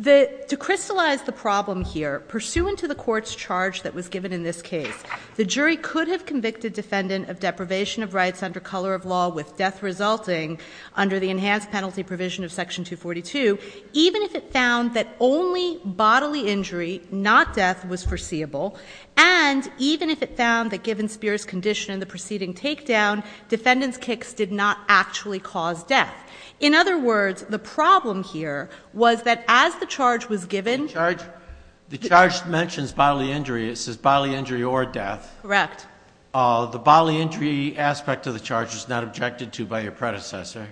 To crystallize the problem here, pursuant to the court's charge that was given in this case, the jury could have convicted defendant of deprivation of rights under color of law with death resulting under the enhanced penalty provision of Section 242, even if it found that only bodily injury, not death, was foreseeable, and even if it found that given Spear's condition in the preceding takedown, defendant's kicks did not actually cause death. In other words, the problem here was that as the charge was given ---- The charge mentions bodily injury. It says bodily injury or death. Correct. The bodily injury aspect of the charge was not objected to by your predecessor.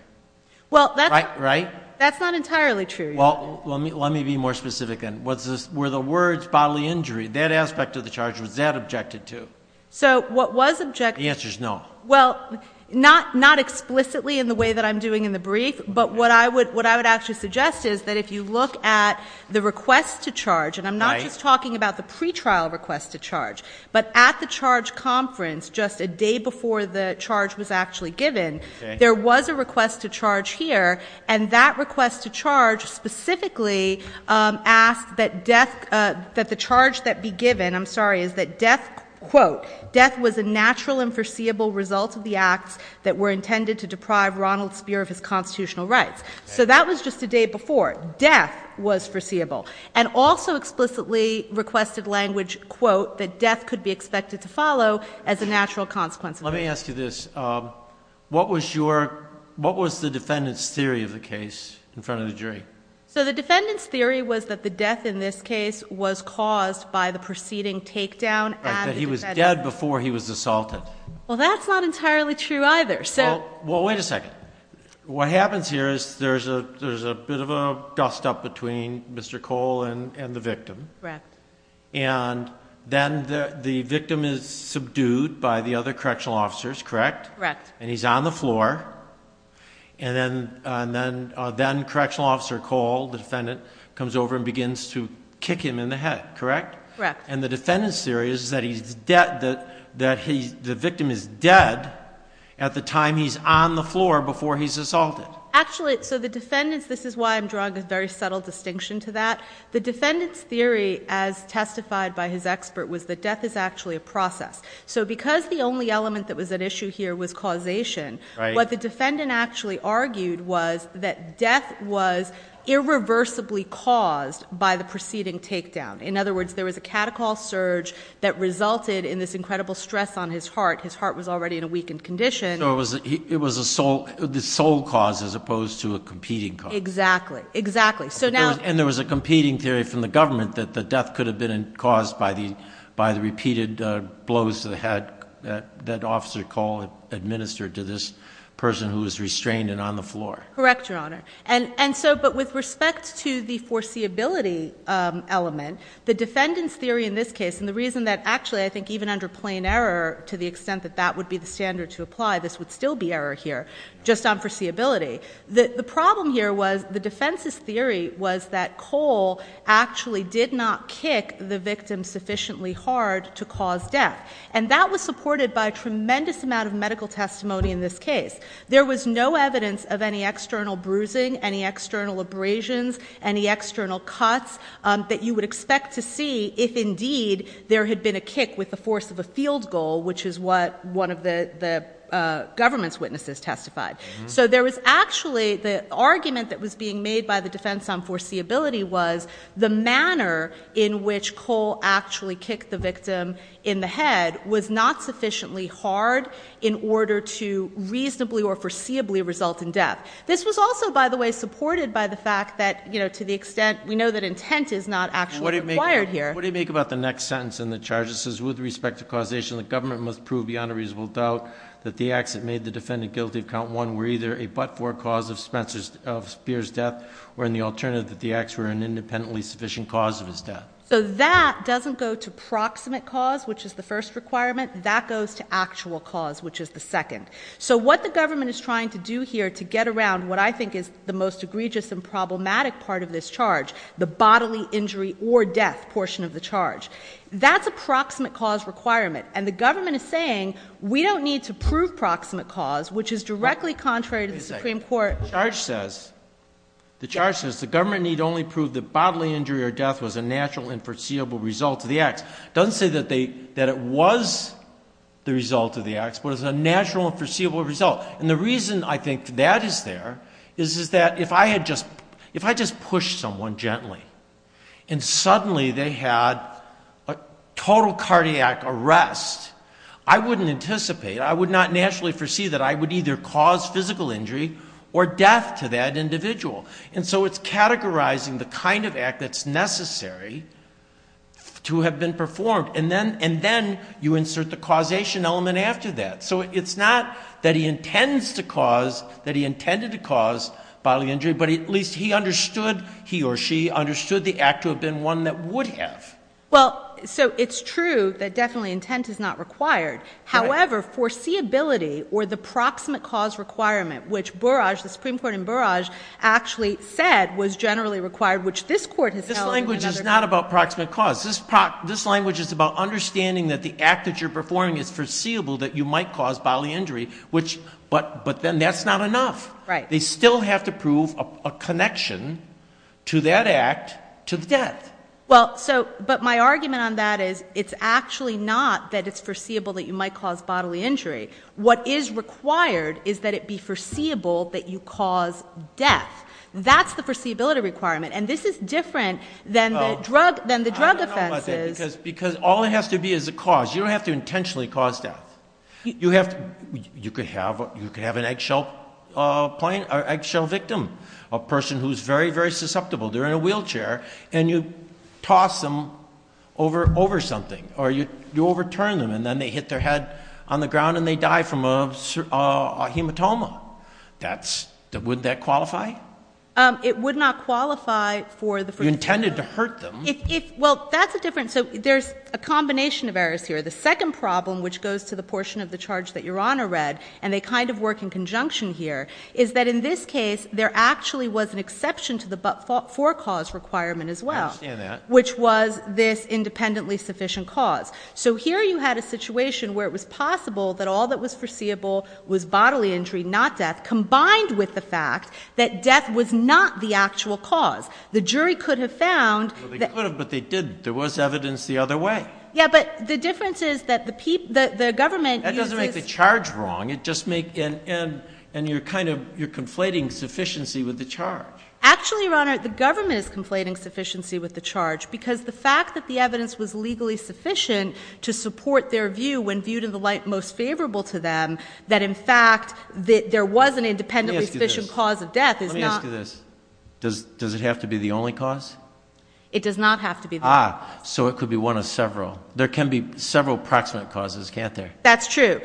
Right? That's not entirely true. Well, let me be more specific. Were the words bodily injury, that aspect of the charge, was that objected to? The answer is no. Well, not explicitly in the way that I'm doing in the brief, but what I would actually suggest is that if you look at the request to charge, and I'm not just talking about the pretrial request to charge, but at the charge conference just a day before the charge was actually given, there was a request to charge here, and that request to charge specifically asked that the charge that be given, I'm sorry, is that, quote, death was a natural and foreseeable result of the acts that were intended to deprive Ronald Spear of his constitutional rights. So that was just a day before. Death was foreseeable. And also explicitly requested language, quote, that death could be expected to follow as a natural consequence. Let me ask you this. What was the defendant's theory of the case in front of the jury? So the defendant's theory was that the death in this case was caused by the preceding takedown. He was dead before he was assaulted. Well, that's not entirely true either. Well, wait a second. What happens here is there's a bit of a dust-up between Mr. Cole and the victim. Correct. And then the victim is subdued by the other correctional officers, correct? Correct. And he's on the floor. And then Correctional Officer Cole, defendant, comes over and begins to kick him in the head, correct? Correct. And the defendant's theory is that the victim is dead at the time he's on the floor before he's assaulted. Actually, so the defendant's, this is why I'm drawing this very subtle distinction to that, the defendant's theory, as testified by his expert, was that death is actually a process. So because the only element that was at issue here was causation, what the defendant actually argued was that death was irreversibly caused by the preceding takedown. In other words, there was a cataclysm surge that resulted in this incredible stress on his heart. His heart was already in a weakened condition. So it was a sole cause as opposed to a competing cause. Exactly. Exactly. And there was a competing theory from the government that the death could have been caused by the repeated blows to the head that Officer Cole administered to this person who was restrained and on the floor. Correct, Your Honor. And so, but with respect to the foreseeability element, the defendant's theory in this case, and the reason that actually I think even under plain error to the extent that that would be the standard to apply, this would still be error here, just on foreseeability. The problem here was the defense's theory was that Cole actually did not kick the victim sufficiently hard to cause death. And that was supported by a tremendous amount of medical testimony in this case. There was no evidence of any external bruising, any external abrasions, any external cuts that you would expect to see if indeed there had been a kick with the force of a field goal, which is what one of the government's witnesses testified. So there was actually the argument that was being made by the defense on foreseeability was the manner in which Cole actually kicked the victim in the head was not sufficiently hard in order to reasonably or foreseeably result in death. This was also, by the way, supported by the fact that, you know, to the extent we know that intent is not actually required here. What do you make about the next sentence in the charges? It says, with respect to causation, the government must prove beyond a reasonable doubt that the acts that made the defendant guilty of count one were either a but-for cause of Speer's death or, in the alternative, that the acts were an independently sufficient cause of his death. So that doesn't go to proximate cause, which is the first requirement. That goes to actual cause, which is the second. So what the government is trying to do here to get around what I think is the most egregious and problematic part of this charge, the bodily injury or death portion of the charge, that's a proximate cause requirement. And the government is saying we don't need to prove proximate cause, which is directly contrary to the Supreme Court. The charge says the government need only prove that bodily injury or death was a natural and foreseeable result of the acts. It doesn't say that it was the result of the acts, but it was a natural and foreseeable result. And the reason I think that is there is that if I had just pushed someone gently and suddenly they had a total cardiac arrest, I wouldn't anticipate, I would not naturally perceive that I would either cause physical injury or death to that individual. And so it's categorizing the kind of act that's necessary to have been performed. And then you insert the causation element after that. So it's not that he intended to cause bodily injury, but at least he understood, he or she understood the act to have been one that would have. Well, so it's true that definitely intent is not required. However, foreseeability or the proximate cause requirement, which Burrage, the Supreme Court in Burrage, actually said was generally required, which this Court is telling us is not. This language is not about proximate cause. This language is about understanding that the act that you're performing is foreseeable, that you might cause bodily injury, but then that's not enough. Right. They still have to prove a connection to that act to death. Well, so, but my argument on that is it's actually not that it's foreseeable that you might cause bodily injury. What is required is that it be foreseeable that you cause death. That's the foreseeability requirement. And this is different than the drug offenses. Because all it has to be is a cause. You don't have to intentionally cause death. You could have an eggshell victim, a person who's very, very susceptible. They're in a wheelchair and you toss them over something or you overturn them and then they hit their head on the ground and they die from a hematoma. That's, would that qualify? It would not qualify for the. You intended to hurt them. Well, that's a different, so there's a combination of errors here. The second problem, which goes to the portion of the charge that Your Honor read, and they kind of work in conjunction here, is that in this case there actually was an exception to the forecause requirement as well. I understand that. Which was this independently sufficient cause. So here you had a situation where it was possible that all that was foreseeable was bodily injury, not death, combined with the fact that death was not the actual cause. The jury could have found. Well, they could have, but they didn't. There was evidence the other way. Yeah, but the difference is that the government. That doesn't make the charge wrong. And you're kind of, you're conflating sufficiency with the charge. Actually, Your Honor, the government is conflating sufficiency with the charge because the fact that the evidence was legally sufficient to support their view when viewed in the light most favorable to them, that in fact there was an independently sufficient cause of death is not. Let me ask you this. Does it have to be the only cause? It does not have to be the only cause. Ah, so it could be one of several. There can be several proximate causes, can't there? That's true.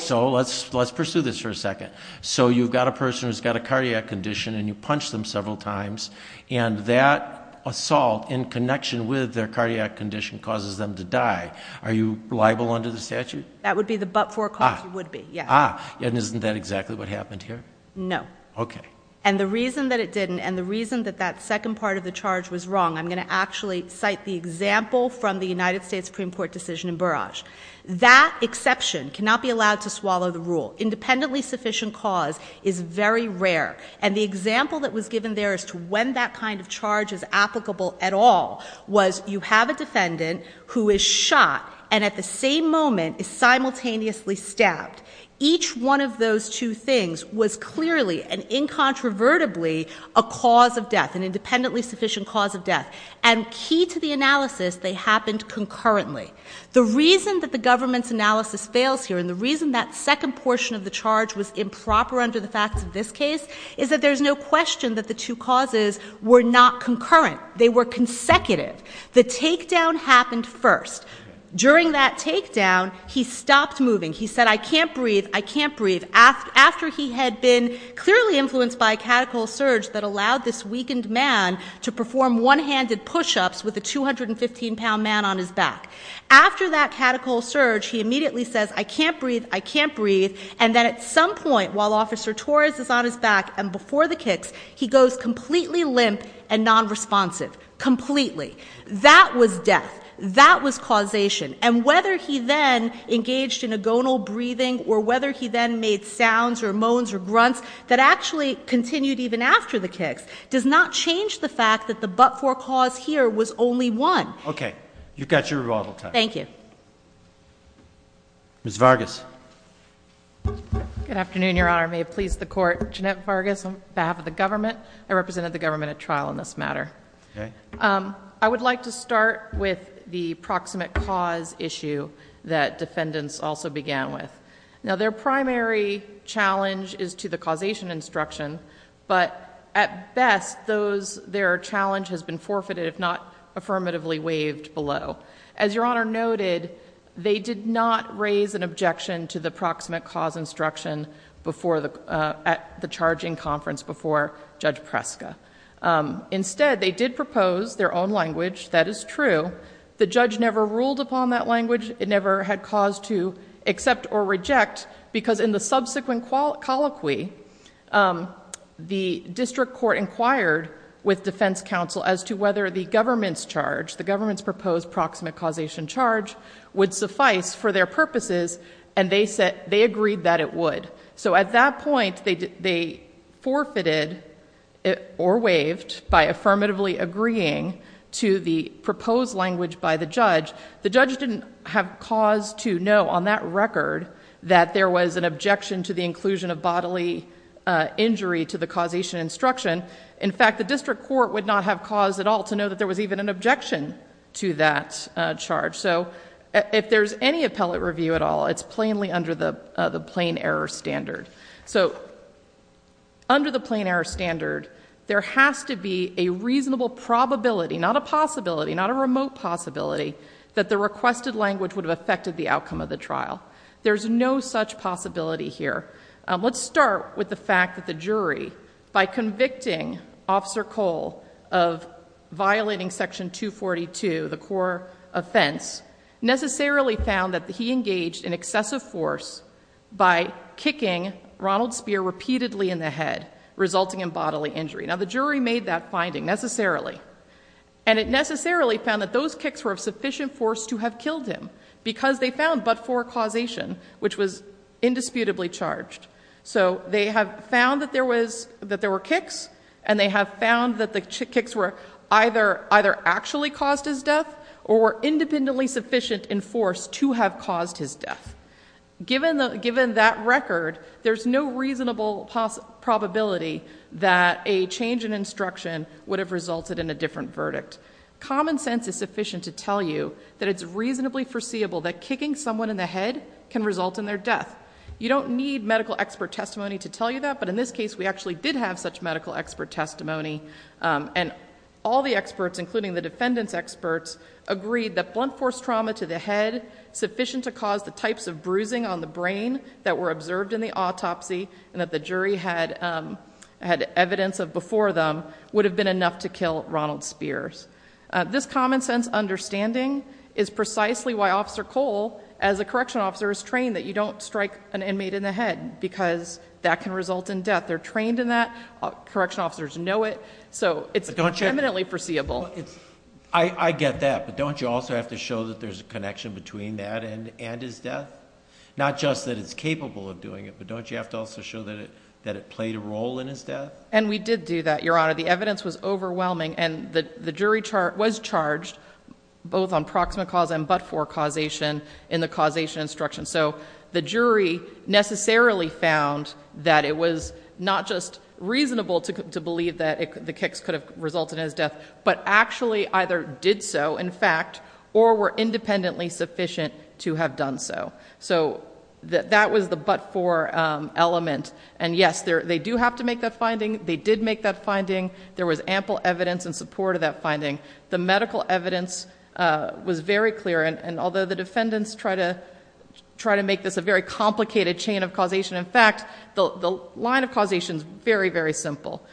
So let's pursue this for a second. So you've got a person who's got a cardiac condition, and you punch them several times, and that assault in connection with their cardiac condition causes them to die. Are you liable under the statute? That would be the but-for cause you would be, yes. Ah, and isn't that exactly what happened here? No. Okay. And the reason that it didn't, and the reason that that second part of the charge was wrong, I'm going to actually cite the example from the United States Supreme Court decision in Burrage. That exception cannot be allowed to swallow the rule. Independently sufficient cause is very rare, and the example that was given there as to when that kind of charge is applicable at all was you have a defendant who is shot and at the same moment is simultaneously stabbed. Each one of those two things was clearly and incontrovertibly a cause of death, an independently sufficient cause of death. And key to the analysis, they happened concurrently. The reason that the government's analysis fails here, and the reason that second portion of the charge was improper under the facts of this case, is that there's no question that the two causes were not concurrent. They were consecutive. The takedown happened first. During that takedown, he stopped moving. He said, I can't breathe, I can't breathe, after he had been clearly influenced by a catechal surge that allowed this weakened man to perform one-handed push-ups with a 215-pound man on his back. After that catechal surge, he immediately says, I can't breathe, I can't breathe, and then at some point while Officer Torres is on his back and before the kicks, he goes completely limp and nonresponsive, completely. That was death. That was causation. And whether he then engaged in agonal breathing or whether he then made sounds or moans or grunts that actually continued even after the kicks does not change the fact that the but-for cause here was only one. Okay. You've got your rebuttal time. Thank you. Ms. Vargas. Good afternoon, Your Honor. May it please the Court, Jeanette Vargas on behalf of the government. I represented the government at trial in this matter. Okay. I would like to start with the proximate cause issue that defendants also began with. Now, their primary challenge is to the causation instruction, but at best their challenge has been forfeited, if not affirmatively waived below. As Your Honor noted, they did not raise an objection to the proximate cause instruction at the charging conference before Judge Preska. Instead, they did propose their own language. That is true. The judge never ruled upon that language. It never had cause to accept or reject because in the subsequent colloquy, the district court inquired with defense counsel as to whether the government's charge, the government's proposed proximate causation charge, would suffice for their purposes, and they agreed that it would. So at that point, they forfeited or waived by affirmatively agreeing to the proposed language by the judge. The judge didn't have cause to know on that record that there was an objection to the inclusion of bodily injury to the causation instruction. In fact, the district court would not have cause at all to know that there was even an objection to that charge. So if there's any appellate review at all, it's plainly under the plain error standard. So under the plain error standard, there has to be a reasonable probability, not a possibility, not a remote possibility, that the requested language would have affected the outcome of the trial. There's no such possibility here. Let's start with the fact that the jury, by convicting Officer Cole of violating Section 242, the core offense, necessarily found that he engaged in excessive force by kicking Ronald Speer repeatedly in the head, resulting in bodily injury. Now, the jury made that finding necessarily, and it necessarily found that those kicks were of sufficient force to have killed him, because they found but for causation, which was indisputably charged. So they have found that there were kicks, and they have found that the kicks were either actually caused his death or were independently sufficient in force to have caused his death. Given that record, there's no reasonable probability that a change in instruction would have resulted in a different verdict. Common sense is sufficient to tell you that it's reasonably foreseeable that kicking someone in the head can result in their death. You don't need medical expert testimony to tell you that, but in this case, we actually did have such medical expert testimony, and all the experts, including the defendant's experts, agreed that blunt force trauma to the head, sufficient to cause the types of bruising on the brain that were observed in the autopsy and that the jury had evidence of before them, would have been enough to kill Ronald Spears. This common sense understanding is precisely why Officer Cole, as a correctional officer, is trained that you don't strike an inmate in the head, because that can result in death. They're trained in that. Correctional officers know it. So it's legitimately foreseeable. I get that, but don't you also have to show that there's a connection between that and his death? Not just that it's capable of doing it, but don't you have to also show that it played a role in his death? And we did do that, Your Honor. The evidence was overwhelming, and the jury was charged both on proximate cause and but-for causation in the causation instruction. So the jury necessarily found that it was not just reasonable to believe that the kicks could have resulted in his death, but actually either did so, in fact, or were independently sufficient to have done so. So that was the but-for element. And, yes, they do have to make that finding. They did make that finding. There was ample evidence in support of that finding. The medical evidence was very clear, and although the defendants try to make this a very complicated chain of causation, in fact, the line of causation is very, very simple.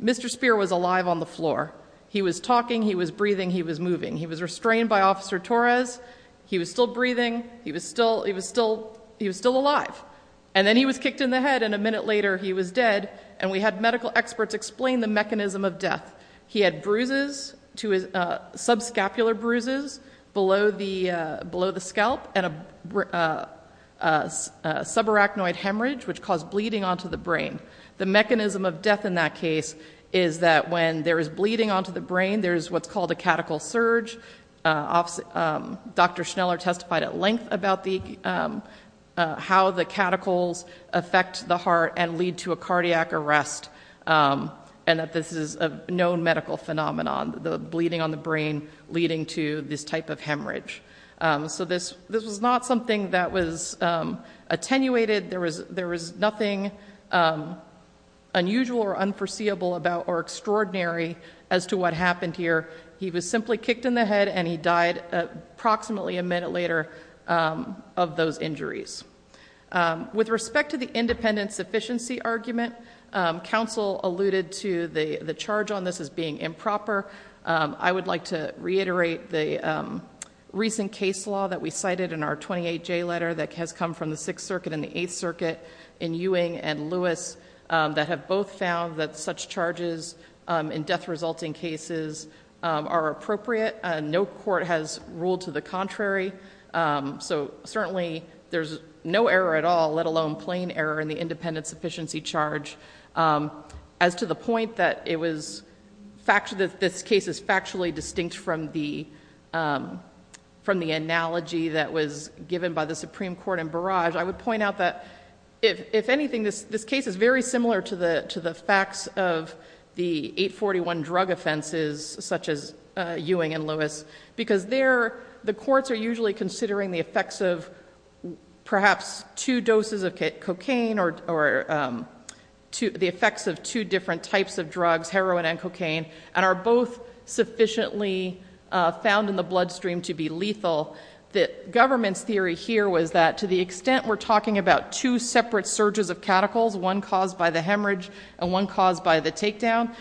Mr. Speer was alive on the floor. He was talking, he was breathing, he was moving. He was restrained by Officer Torres. He was still breathing. He was still alive. And then he was kicked in the head, and a minute later, he was dead, and we had medical experts explain the mechanism of death. He had bruises, subscapular bruises below the scalp and a subarachnoid hemorrhage, which caused bleeding onto the brain. The mechanism of death in that case is that when there is bleeding onto the brain, there is what's called a catechal surge. Dr. Schneller testified at length about how the catechals affect the heart and lead to a cardiac arrest, and that this is a known medical phenomenon, the bleeding on the brain leading to this type of hemorrhage. So this was not something that was attenuated. There was nothing unusual or unforeseeable about or extraordinary as to what happened here. He was simply kicked in the head, and he died approximately a minute later of those injuries. With respect to the independent sufficiency argument, counsel alluded to the charge on this as being improper. I would like to reiterate the recent case law that we cited in our 28J letter that has come from the Sixth Circuit and the Eighth Circuit in Ewing and Lewis that have both found that such charges in death-resulting cases are appropriate. No court has ruled to the contrary. So certainly there's no error at all, let alone plain error in the independent sufficiency charge. As to the point that this case is factually distinct from the analogy that was given by the Supreme Court in Barrage, I would point out that, if anything, this case is very similar to the facts of the 841 drug offenses such as Ewing and Lewis, because the courts are usually considering the effects of perhaps two doses of cocaine or the effects of two different types of drugs, heroin and cocaine, and are both sufficiently found in the bloodstream to be lethal. The government theory here was that, to the extent we're talking about two separate surges of catechols, one caused by the hemorrhage and one caused by the takedown,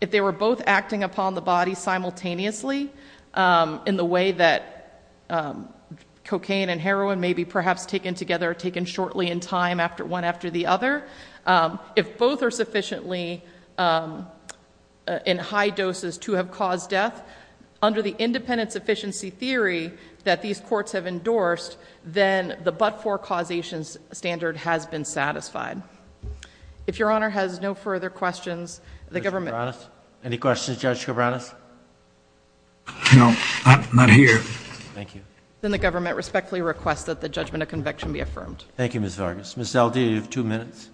if they were both acting upon the body simultaneously, in the way that cocaine and heroin may be perhaps taken together or taken shortly in time one after the other, if both are sufficiently in high doses to have caused death, under the independent sufficiency theory that these courts have endorsed, then the but-for causation standard has been satisfied. If Your Honor has no further questions, the government respectfully requests that the judgment of conviction be affirmed. Thank you, Ms. Vargas. Ms. Zeldin, you have two minutes.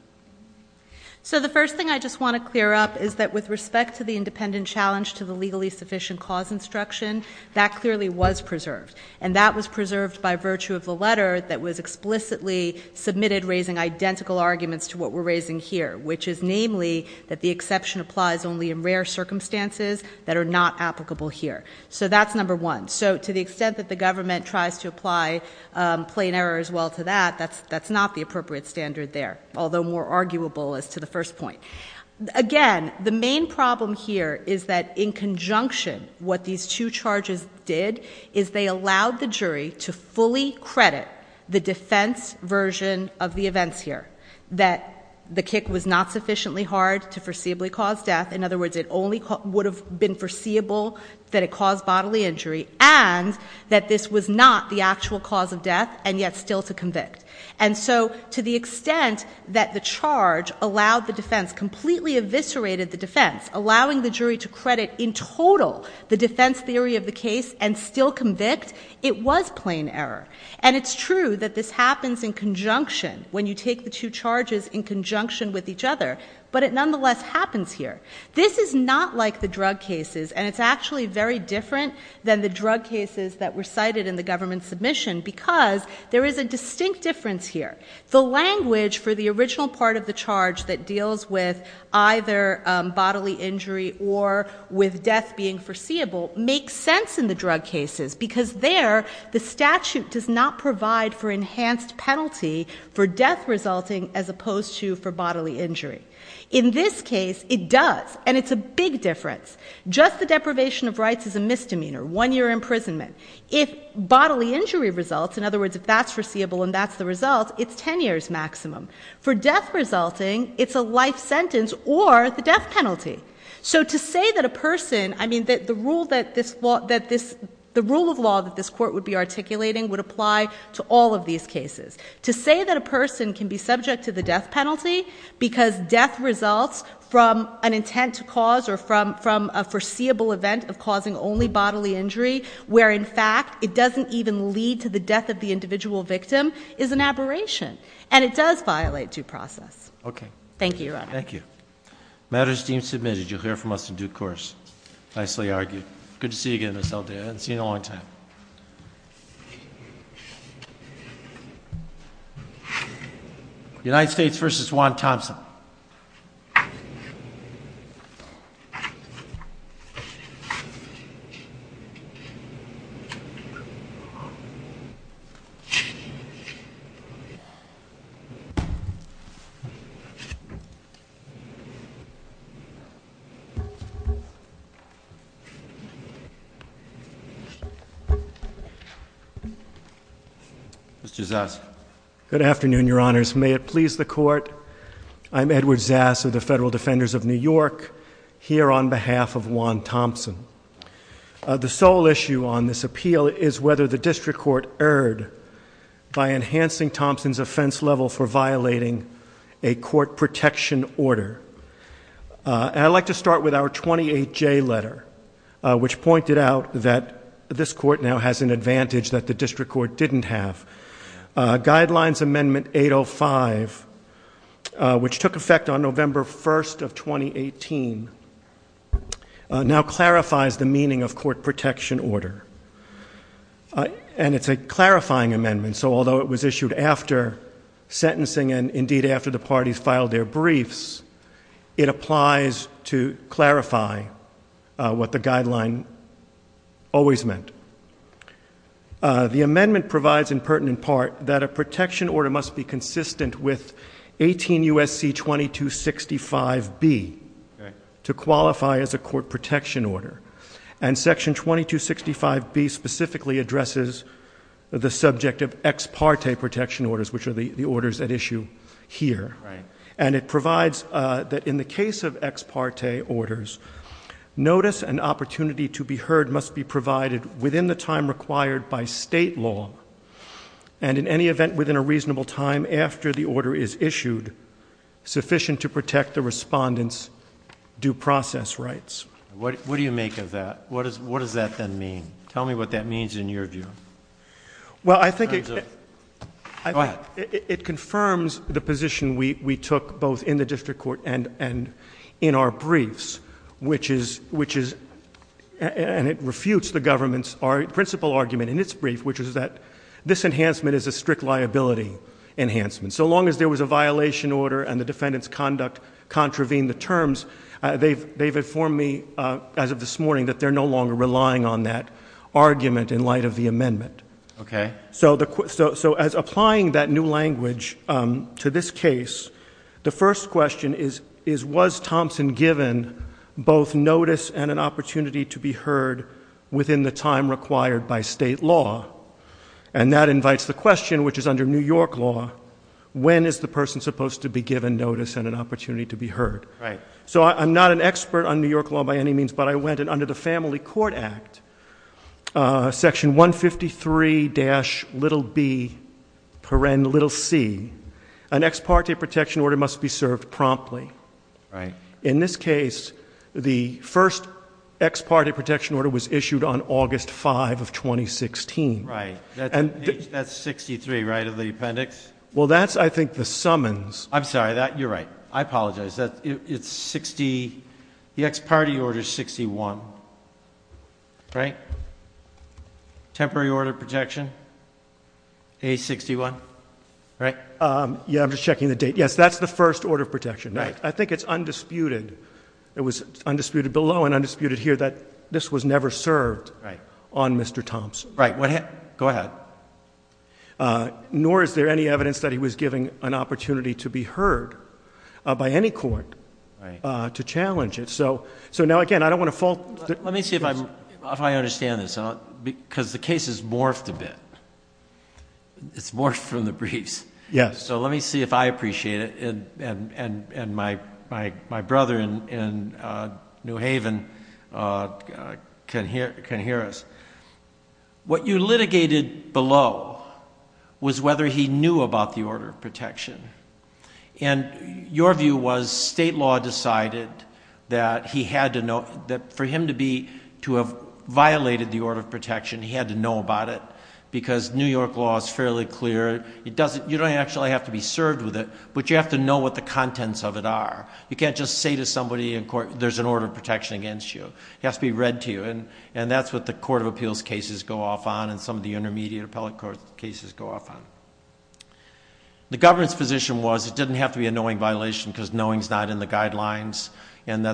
So the first thing I just want to clear up is that, with respect to the independent challenge to the legally sufficient cause instruction, that clearly was preserved, and that was preserved by virtue of the letter that was explicitly submitted raising identical arguments to what we're raising here, which is namely that the exception applies only in rare circumstances that are not applicable here. So that's number one. So to the extent that the government tries to apply plain error as well to that, that's not the appropriate standard there, although more arguable as to the first point. Again, the main problem here is that, in conjunction, what these two charges did is they allowed the jury to fully credit the defense version of the events here, that the kick was not sufficiently hard to foreseeably cause death. In other words, it only would have been foreseeable that it caused bodily injury and that this was not the actual cause of death and yet still to convict. And so to the extent that the charge allowed the defense, completely eviscerated the defense, allowing the jury to credit in total the defense theory of the case and still convict, it was plain error. And it's true that this happens in conjunction, when you take the two charges in conjunction with each other, but it nonetheless happens here. This is not like the drug cases, and it's actually very different than the drug cases that were cited in the government submission because there is a distinct difference here. The language for the original part of the charge that deals with either bodily injury or with death being foreseeable makes sense in the drug cases because there, the statute does not provide for enhanced penalty for death resulting as opposed to for bodily injury. In this case, it does, and it's a big difference. Just the deprivation of rights is a misdemeanor, one-year imprisonment. If bodily injury results, in other words, if that's foreseeable and that's the result, it's ten years maximum. For death resulting, it's a life sentence or the death penalty. So to say that a person, I mean, the rule of law that this court would be articulating would apply to all of these cases. To say that a person can be subject to the death penalty because death results from an intent to cause or from a foreseeable event of causing only bodily injury where, in fact, it doesn't even lead to the death of the individual victim is an aberration, and it does violate due process. Okay. Thank you. Thank you. Matters deemed submitted, you'll hear from us in due course. Nicely argued. Good to see you again. I haven't seen you in a long time. United States versus Juan Thompson. Good afternoon, Your Honors. May it please the Court. I'm Edward Zass of the Federal Defenders of New York, here on behalf of Juan Thompson. The sole issue on this appeal is whether the district court erred by enhancing Thompson's offense level for violating a court protection order. And I'd like to start with our 28J letter, which pointed out that this court now has an advantage that the district court didn't have. Guidelines Amendment 805, which took effect on November 1st of 2018, now clarifies the meaning of court protection order. And it's a clarifying amendment, so although it was issued after sentencing and, indeed, after the parties filed their briefs, it applies to clarify what the guideline always meant. The amendment provides, in pertinent part, that a protection order must be consistent with 18 U.S.C. 2265B to qualify as a court protection order. And Section 2265B specifically addresses the subject of ex parte protection orders, which are the orders at issue here. And it provides that in the case of ex parte orders, notice and opportunity to be heard must be provided within the time required by state law and, in any event, within a reasonable time after the order is issued, sufficient to protect the respondent's due process rights. What do you make of that? What does that then mean? Tell me what that means in your view. Well, I think it confirms the position we took, both in the district court and in our briefs, which is, and it refutes the government's principle argument in its brief, which is that this enhancement is a strict liability enhancement. So long as there was a violation order and the defendant's conduct contravened the terms, they've informed me, as of this morning, that they're no longer relying on that argument in light of the amendment. Okay. So as applying that new language to this case, the first question is, was Thompson given both notice and an opportunity to be heard within the time required by state law? And that invites the question, which is under New York law, when is the person supposed to be given notice and an opportunity to be heard? Right. So I'm not an expert on New York law by any means, but I went in under the Family Court Act, section 153-b-c. An ex parte protection order must be served promptly. Right. In this case, the first ex parte protection order was issued on August 5 of 2016. Right. That's 63, right, of the appendix? Well, that's, I think, the summons. I'm sorry. You're right. I apologize. It's 60. The ex parte order is 61. Right. Temporary order of protection, page 61. Right. Yeah, I'm just checking the date. Yes, that's the first order of protection. Right. I think it's undisputed. It was undisputed below and undisputed here that this was never served. Right. On Mr. Thompson. Right. Go ahead. Nor is there any evidence that he was given an opportunity to be heard by any court to challenge it. So now, again, I don't want to fall. Let me see if I understand this because the case has morphed a bit. It's morphed from the brief. Yes. So let me see if I appreciate it and my brother in New Haven can hear us. What you litigated below was whether he knew about the order of protection. And your view was state law decided that for him to have violated the order of protection, he had to know about it because New York law is fairly clear. You don't actually have to be served with it, but you have to know what the contents of it are. You can't just say to somebody in court, there's an order of protection against you. It has to be read to you. And that's what the court of appeals cases go off on and some of the intermediate appellate court cases go off on. The government's position was it didn't have to be a knowing violation because knowing is not in the guidelines. And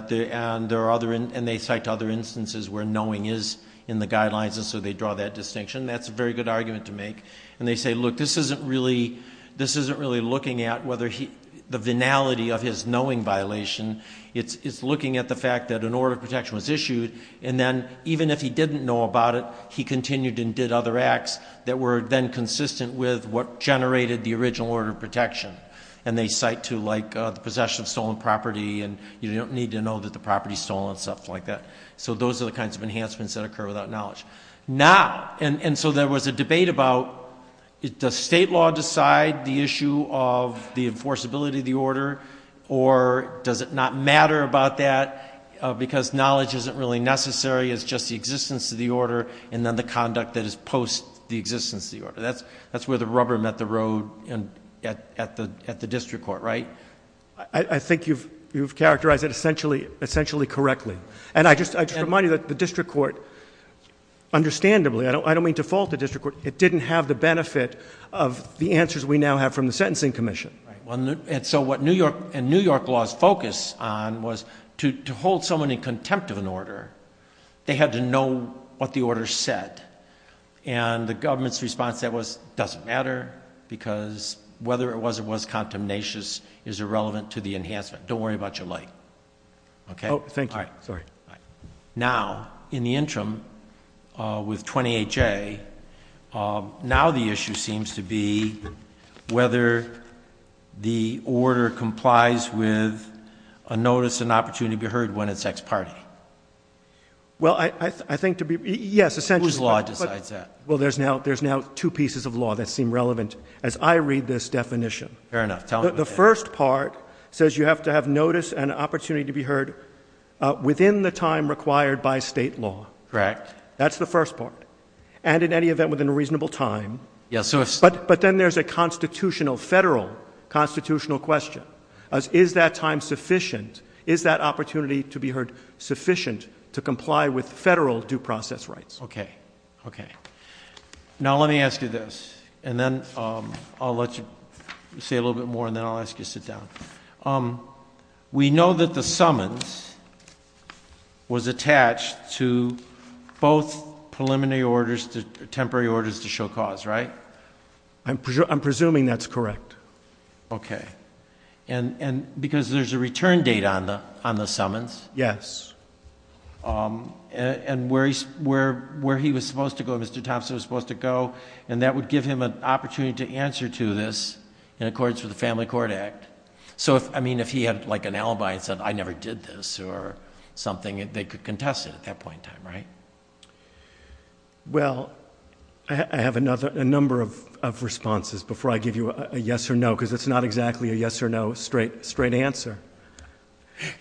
they cite other instances where knowing is in the guidelines and so they draw that distinction. That's a very good argument to make. And they say, look, this isn't really looking at the venality of his knowing violation. It's looking at the fact that an order of protection was issued and then even if he didn't know about it, he continued and did other acts that were then consistent with what generated the original order of protection. And they cite to, like, the possession of stolen property and you don't need to know that the property is stolen and stuff like that. So those are the kinds of enhancements that occur without knowledge. Now, and so there was a debate about, does state law decide the issue of the enforceability of the order or does it not matter about that because knowledge isn't really necessary, it's just the existence of the order and then the conduct that is post the existence of the order. That's where the rubber met the road at the district court, right? I think you've characterized it essentially correctly. And I just remind you that the district court, understandably, I don't mean to fault the district court, it didn't have the benefit of the answers we now have from the Sentencing Commission. And so what New York laws focus on was to hold someone in contempt of an order, they had to know what the order said. And the government's response to that was, it doesn't matter because whether it was or was contemnatious is irrelevant to the enhancement, don't worry about your life. Okay? Oh, thanks. Sorry. Now, in the interim, with 28J, now the issue seems to be whether the order complies with a notice and opportunity to be heard when it's ex parte. Well, I think to be, yes. Whose law decides that? Well, there's now two pieces of law that seem relevant as I read this definition. Fair enough. The first part says you have to have notice and opportunity to be heard within the time required by state law. Correct. That's the first part. And in any event, within a reasonable time. Yes. But then there's a constitutional, federal constitutional question. Is that time sufficient? Is that opportunity to be heard sufficient to comply with federal due process rights? Okay. Okay. Now, let me ask you this, and then I'll let you say a little bit more, and then I'll ask you to sit down. We know that the summons was attached to both preliminary orders, the temporary orders to show cause, right? I'm presuming that's correct. Okay. And because there's a return date on the summons. Yes. And where he was supposed to go, Mr. Thompson was supposed to go, and that would give him an opportunity to answer to this in accordance with the Family Court Act. So, I mean, if he had, like, an alibi and said, I never did this or something, they could contest it at that point in time, right? Well, I have a number of responses before I give you a yes or no, because it's not exactly a yes or no straight answer.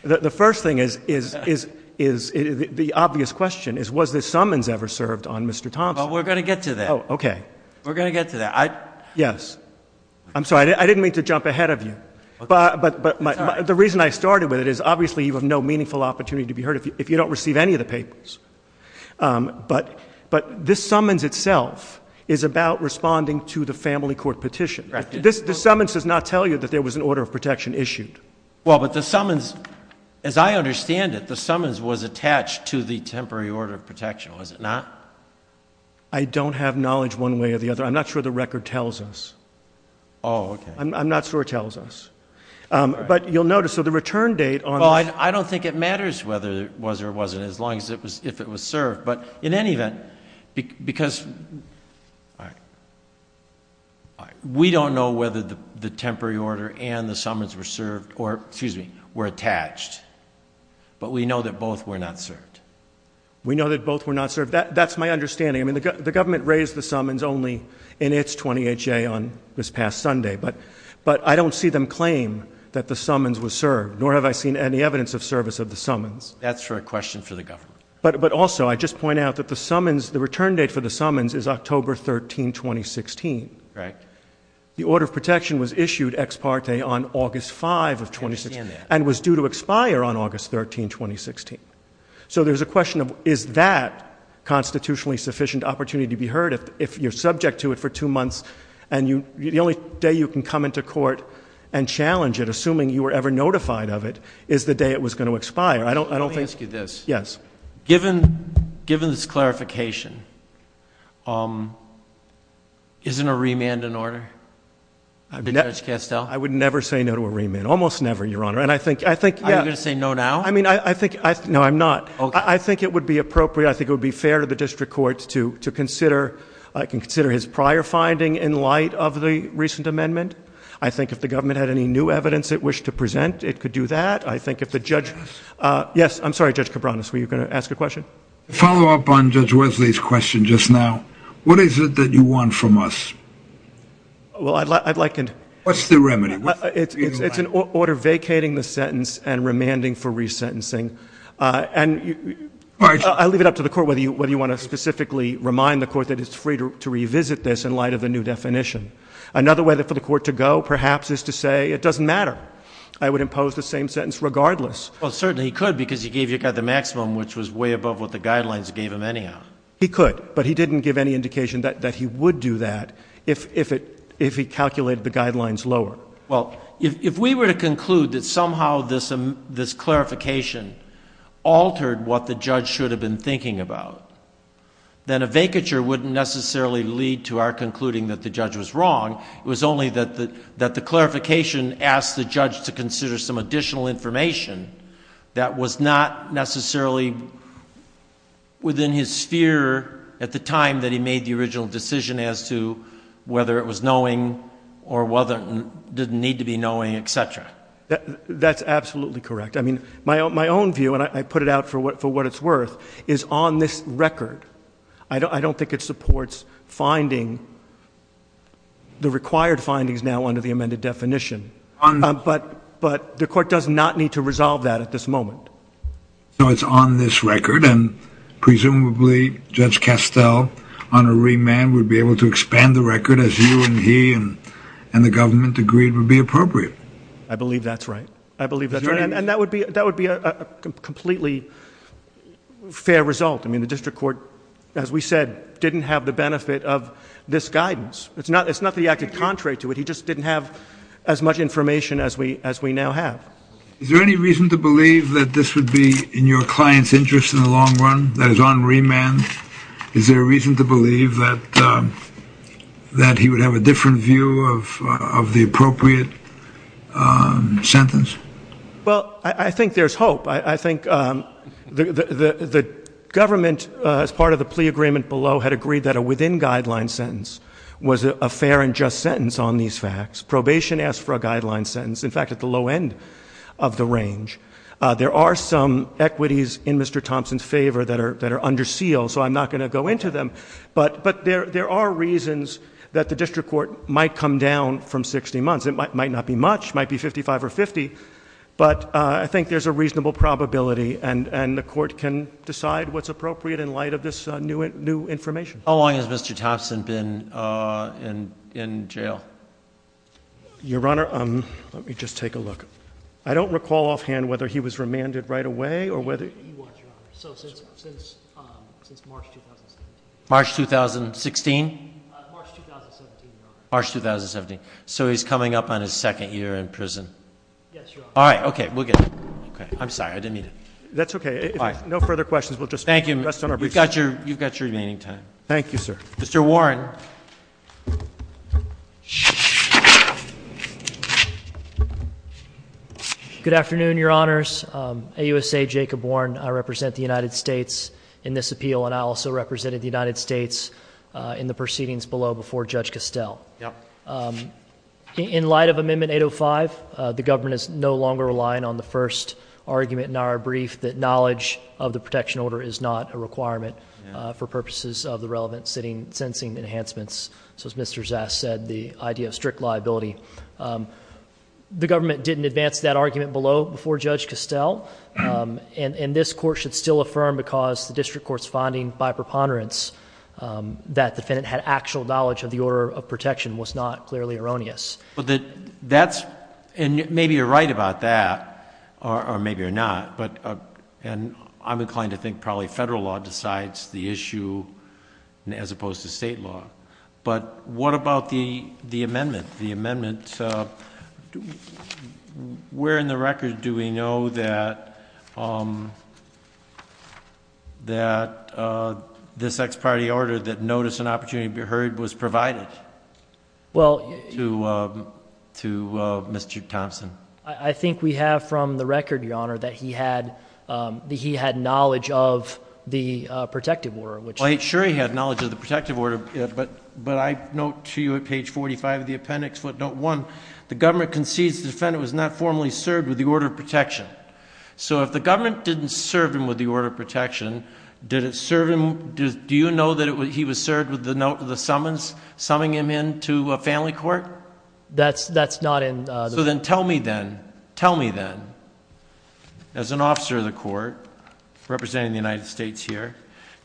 The first thing is the obvious question is, was the summons ever served on Mr. Thompson? Well, we're going to get to that. Oh, okay. We're going to get to that. Yes. I'm sorry. I didn't mean to jump ahead of you. But the reason I started with it is, obviously you have no meaningful opportunity to be heard if you don't receive any of the papers. But this summons itself is about responding to the family court petition. The summons does not tell you that there was an order of protection issued. Well, but the summons, as I understand it, the summons was attached to the temporary order of protection, was it not? I don't have knowledge one way or the other. I'm not sure the record tells us. Oh, okay. I'm not sure it tells us. But you'll notice that the return date on it. Well, I don't think it matters whether it was or wasn't, as long as it was served. But in any event, because we don't know whether the temporary order and the summons were served or, excuse me, were attached. But we know that both were not served. We know that both were not served. That's my understanding. I mean, the government raised the summons only in its 20HA on this past Sunday. But I don't see them claim that the summons were served, nor have I seen any evidence of service of the summons. That's your question for the government. But also, I just point out that the summons, the return date for the summons is October 13, 2016. Right. The order of protection was issued ex parte on August 5 of 2016. I understand that. And was due to expire on August 13, 2016. So there's a question of, is that constitutionally sufficient opportunity to be heard? If you're subject to it for two months, and the only day you can come into court and challenge it, assuming you were ever notified of it, is the day it was going to expire. Let me ask you this. Yes. Given this clarification, isn't a remand an order? I would never say no to a remand. Almost never, Your Honor. Are you going to say no now? No, I'm not. I think it would be appropriate, I think it would be fair to the district courts to consider his prior finding in light of the recent amendment. I think if the government had any new evidence it wished to present, it could do that. I think if the judge, yes, I'm sorry, Judge Cabranes, were you going to ask a question? To follow up on Judge Wesley's question just now, what is it that you want from us? Well, I'd like to know. What's the remedy? It's an order vacating the sentence and remanding for resentencing. And I'll leave it up to the Court whether you want to specifically remind the Court that it's free to revisit this in light of the new definition. Another way for the Court to go, perhaps, is to say it doesn't matter. I would impose the same sentence regardless. Well, certainly he could because he gave you the maximum, which was way above what the guidelines gave him anyhow. He could, but he didn't give any indication that he would do that if he calculated the guidelines lower. Well, if we were to conclude that somehow this clarification altered what the judge should have been thinking about, then a vacature wouldn't necessarily lead to our concluding that the judge was wrong. It was only that the clarification asked the judge to consider some additional information that was not necessarily within his sphere at the time that he made the original decision as to whether it was knowing or didn't need to be knowing, et cetera. That's absolutely correct. I mean, my own view, and I put it out for what it's worth, is on this record. I don't think it supports finding the required findings now under the amended definition. But the Court does not need to resolve that at this moment. So it's on this record, and presumably Judge Castell on a remand would be able to expand the record as you and he and the government agreed would be appropriate. I believe that's right. I believe that's right. And that would be a completely fair result. I mean, the District Court, as we said, didn't have the benefit of this guidance. It's not that he acted contrary to it. He just didn't have as much information as we now have. Is there any reason to believe that this would be in your client's interest in the long run, that he's on remand? Is there a reason to believe that he would have a different view of the appropriate sentence? Well, I think there's hope. I think the government, as part of the plea agreement below, had agreed that a within-guideline sentence was a fair and just sentence on these facts. Probation asked for a guideline sentence. In fact, at the low end of the range. There are some equities in Mr. Thompson's favor that are under seal, so I'm not going to go into them. But there are reasons that the District Court might come down from 60 months. It might not be much. It might be 55 or 50. But I think there's a reasonable probability, and the Court can decide what's appropriate in light of this new information. How long has Mr. Thompson been in jail? Your Honor, let me just take a look. I don't recall offhand whether he was remanded right away or whether he was remanded. Since March 2016. March 2016? March 2017, Your Honor. March 2017. So he's coming up on his second year in prison? Yes, Your Honor. All right. Okay. We'll get it. I'm sorry. I didn't mean to. That's okay. No further questions. Thank you. You've got your meeting time. Thank you, sir. Mr. Warren. Good afternoon, Your Honors. AUSA Jacob Warren. I represent the United States in this appeal, and I also represented the United States in the proceedings below before Judge Costell. In light of Amendment 805, the government is no longer relying on the first argument in our brief, that knowledge of the protection order is not a requirement for purposes of the relevant sentencing enhancements. So as Mr. Zass said, the idea of strict liability. The government didn't advance that argument below before Judge Costell, and this Court should still affirm because the district court's finding by preponderance that the defendant had actual knowledge of the order of protection was not clearly erroneous. And maybe you're right about that, or maybe you're not, and I'm inclined to think probably federal law decides the issue as opposed to state law. But what about the amendment? The amendment, where in the record do we know that this ex parte order that notice and opportunity to be heard was provided? To Mr. Thompson. I think we have from the record, Your Honor, that he had knowledge of the protective order. Sure he had knowledge of the protective order, but I note to you at page 45 of the appendix, note one, the government concedes the defendant was not formally served with the order of protection. So if the government didn't serve him with the order of protection, did it serve him, do you know that he was served with the summons, summing him into a family court? That's not in the record. So then tell me then, tell me then, as an officer of the court representing the United States here,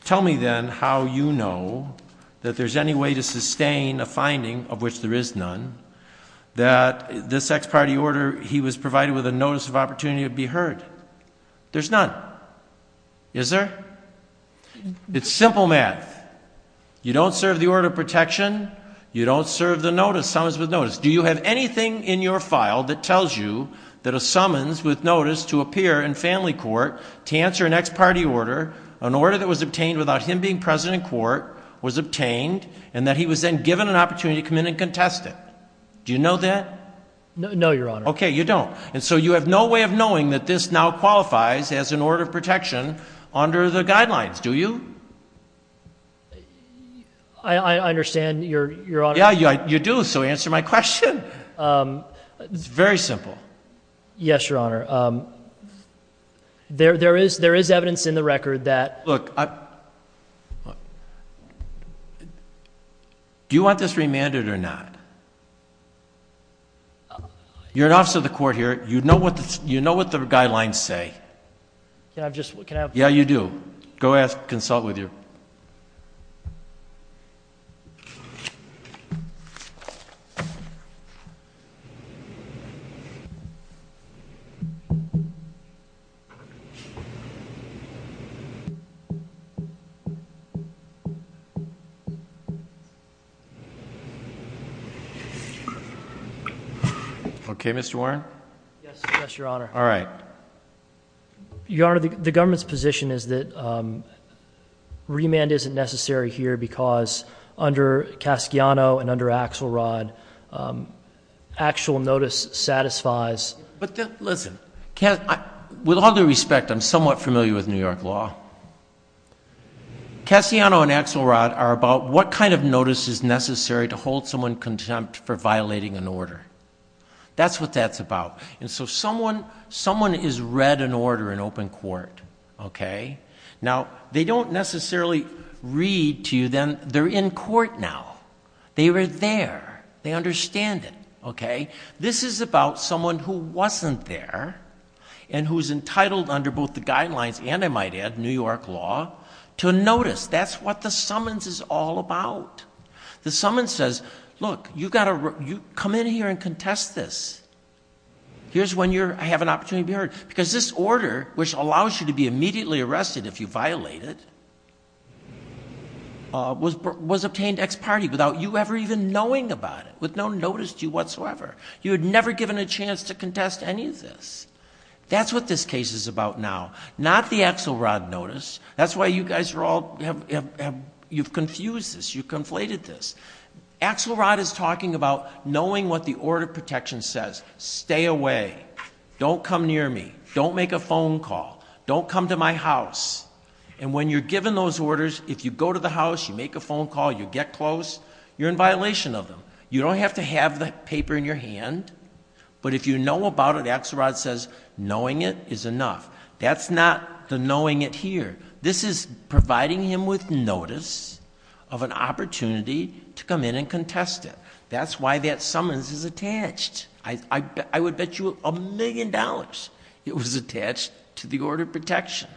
tell me then how you know that there's any way to sustain a finding of which there is none, that this ex parte order he was provided with a notice of opportunity to be heard. There's none. Is there? It's a simple matter. You don't serve the order of protection, you don't serve the notice, summons with notice. Do you have anything in your file that tells you that a summons with notice to appear in family court to answer an ex parte order, an order that was obtained without him being present in court, was obtained and that he was then given an opportunity to come in and contest it? Do you know that? No, Your Honor. Okay, you don't. And so you have no way of knowing that this now qualifies as an order of protection under the guidelines, do you? I understand, Your Honor. Yeah, you do, so answer my question. It's very simple. Yes, Your Honor. There is evidence in the record that... Look, do you want this remanded or not? You're an officer of the court here. You know what the guidelines say. Yeah, I'm just looking at... Yeah, you do. Go ask, consult with you. Okay, Mr. Warren. Yes, Your Honor. All right. Your Honor, the government's position is that remand isn't necessary here because under Casciano and under Axelrod, actual notice satisfies... But listen, with all due respect, I'm somewhat familiar with New York law. Casciano and Axelrod are about what kind of notice is necessary to hold someone contempt for violating an order. That's what that's about. And so someone has read an order in open court, okay? Now, they don't necessarily read to you that they're in court now. They were there. They understand it, okay? This is about someone who wasn't there and who's entitled under both the guidelines and, I might add, New York law, to notice. That's what the summons is all about. The summons says, look, you've got to come in here and contest this. Here's when you have an opportunity to hear it. Because this order, which allows you to be immediately arrested if you violate it, was obtained ex parte without you ever even knowing about it, with no notice to you whatsoever. You had never given a chance to contest any of this. That's what this case is about now. Not the Axelrod notice. That's why you guys are all, you've confused this. You've conflated this. Axelrod is talking about knowing what the order of protection says. Stay away. Don't come near me. Don't make a phone call. Don't come to my house. And when you're given those orders, if you go to the house, you make a phone call, you get close, you're in violation of them. You don't have to have the paper in your hand. But if you know about it, Axelrod says knowing it is enough. That's not the knowing it here. This is providing him with notice of an opportunity to come in and contest it. That's why that summons is attached. I would bet you a million dollars it was attached to the order of protection.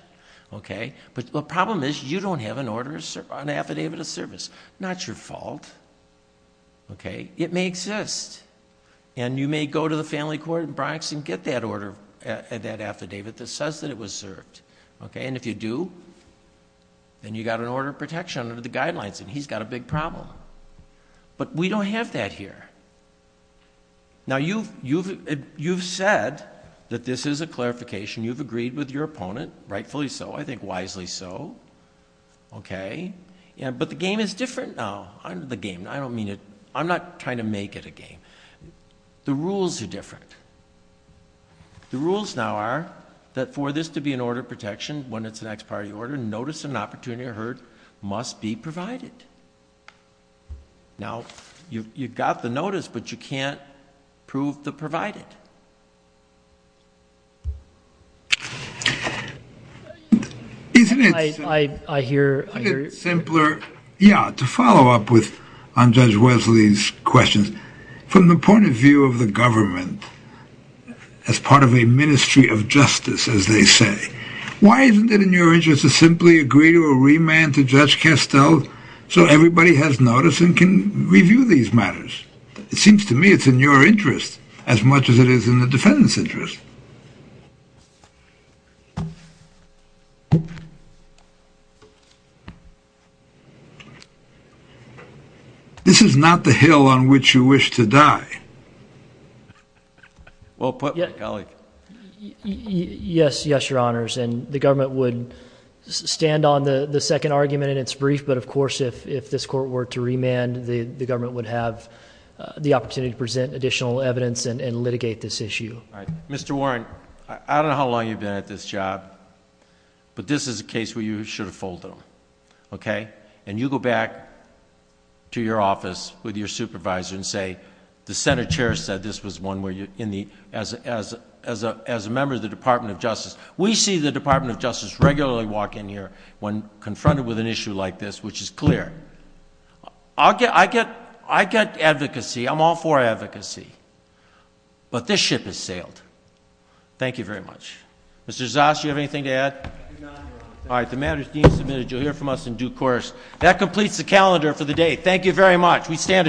But the problem is you don't have an order, an affidavit of service. Not your fault. It may exist. And you may go to the family court in Bronx and get that order, that affidavit that says that it was served. And if you do, then you've got an order of protection under the guidelines, and he's got a big problem. But we don't have that here. Now, you've said that this is a clarification. You've agreed with your opponent. Rightfully so. I think wisely so. Okay. But the game is different now. I'm not trying to make it a game. The rules are different. The rules now are that for this to be an order of protection when it's an ex parte order, notice of an opportunity must be provided. Now, you've got the notice, but you can't prove the provider. Isn't it simpler, yeah, to follow up on Judge Wesley's question, from the point of view of the government, as part of a ministry of justice, as they say, Why isn't it in your interest to simply agree or remand to Judge Castell so everybody has notice and can review these matters? It seems to me it's in your interest as much as it is in the defendant's interest. This is not the hill on which you wish to die. Well put, Kelly. Yes, Your Honors, and the government would stand on the second argument in its brief, but, of course, if this court were to remand, the government would have the opportunity to present additional evidence and litigate this issue. Mr. Warren, I don't know how long you've been at this job, but this is a case where you should have foiled them, okay? And you go back to your office with your supervisor and say, The Senate chair said this was one where you, as a member of the Department of Justice, we see the Department of Justice regularly walk in here when confronted with an issue like this, which is clear. I get advocacy, I'm all for advocacy, but this ship has sailed. Thank you very much. Mr. Zas, do you have anything to add? All right, the matter is deemed submitted. You'll hear from us in due course. That completes the calendar for the day. Thank you very much. We stand adjourned.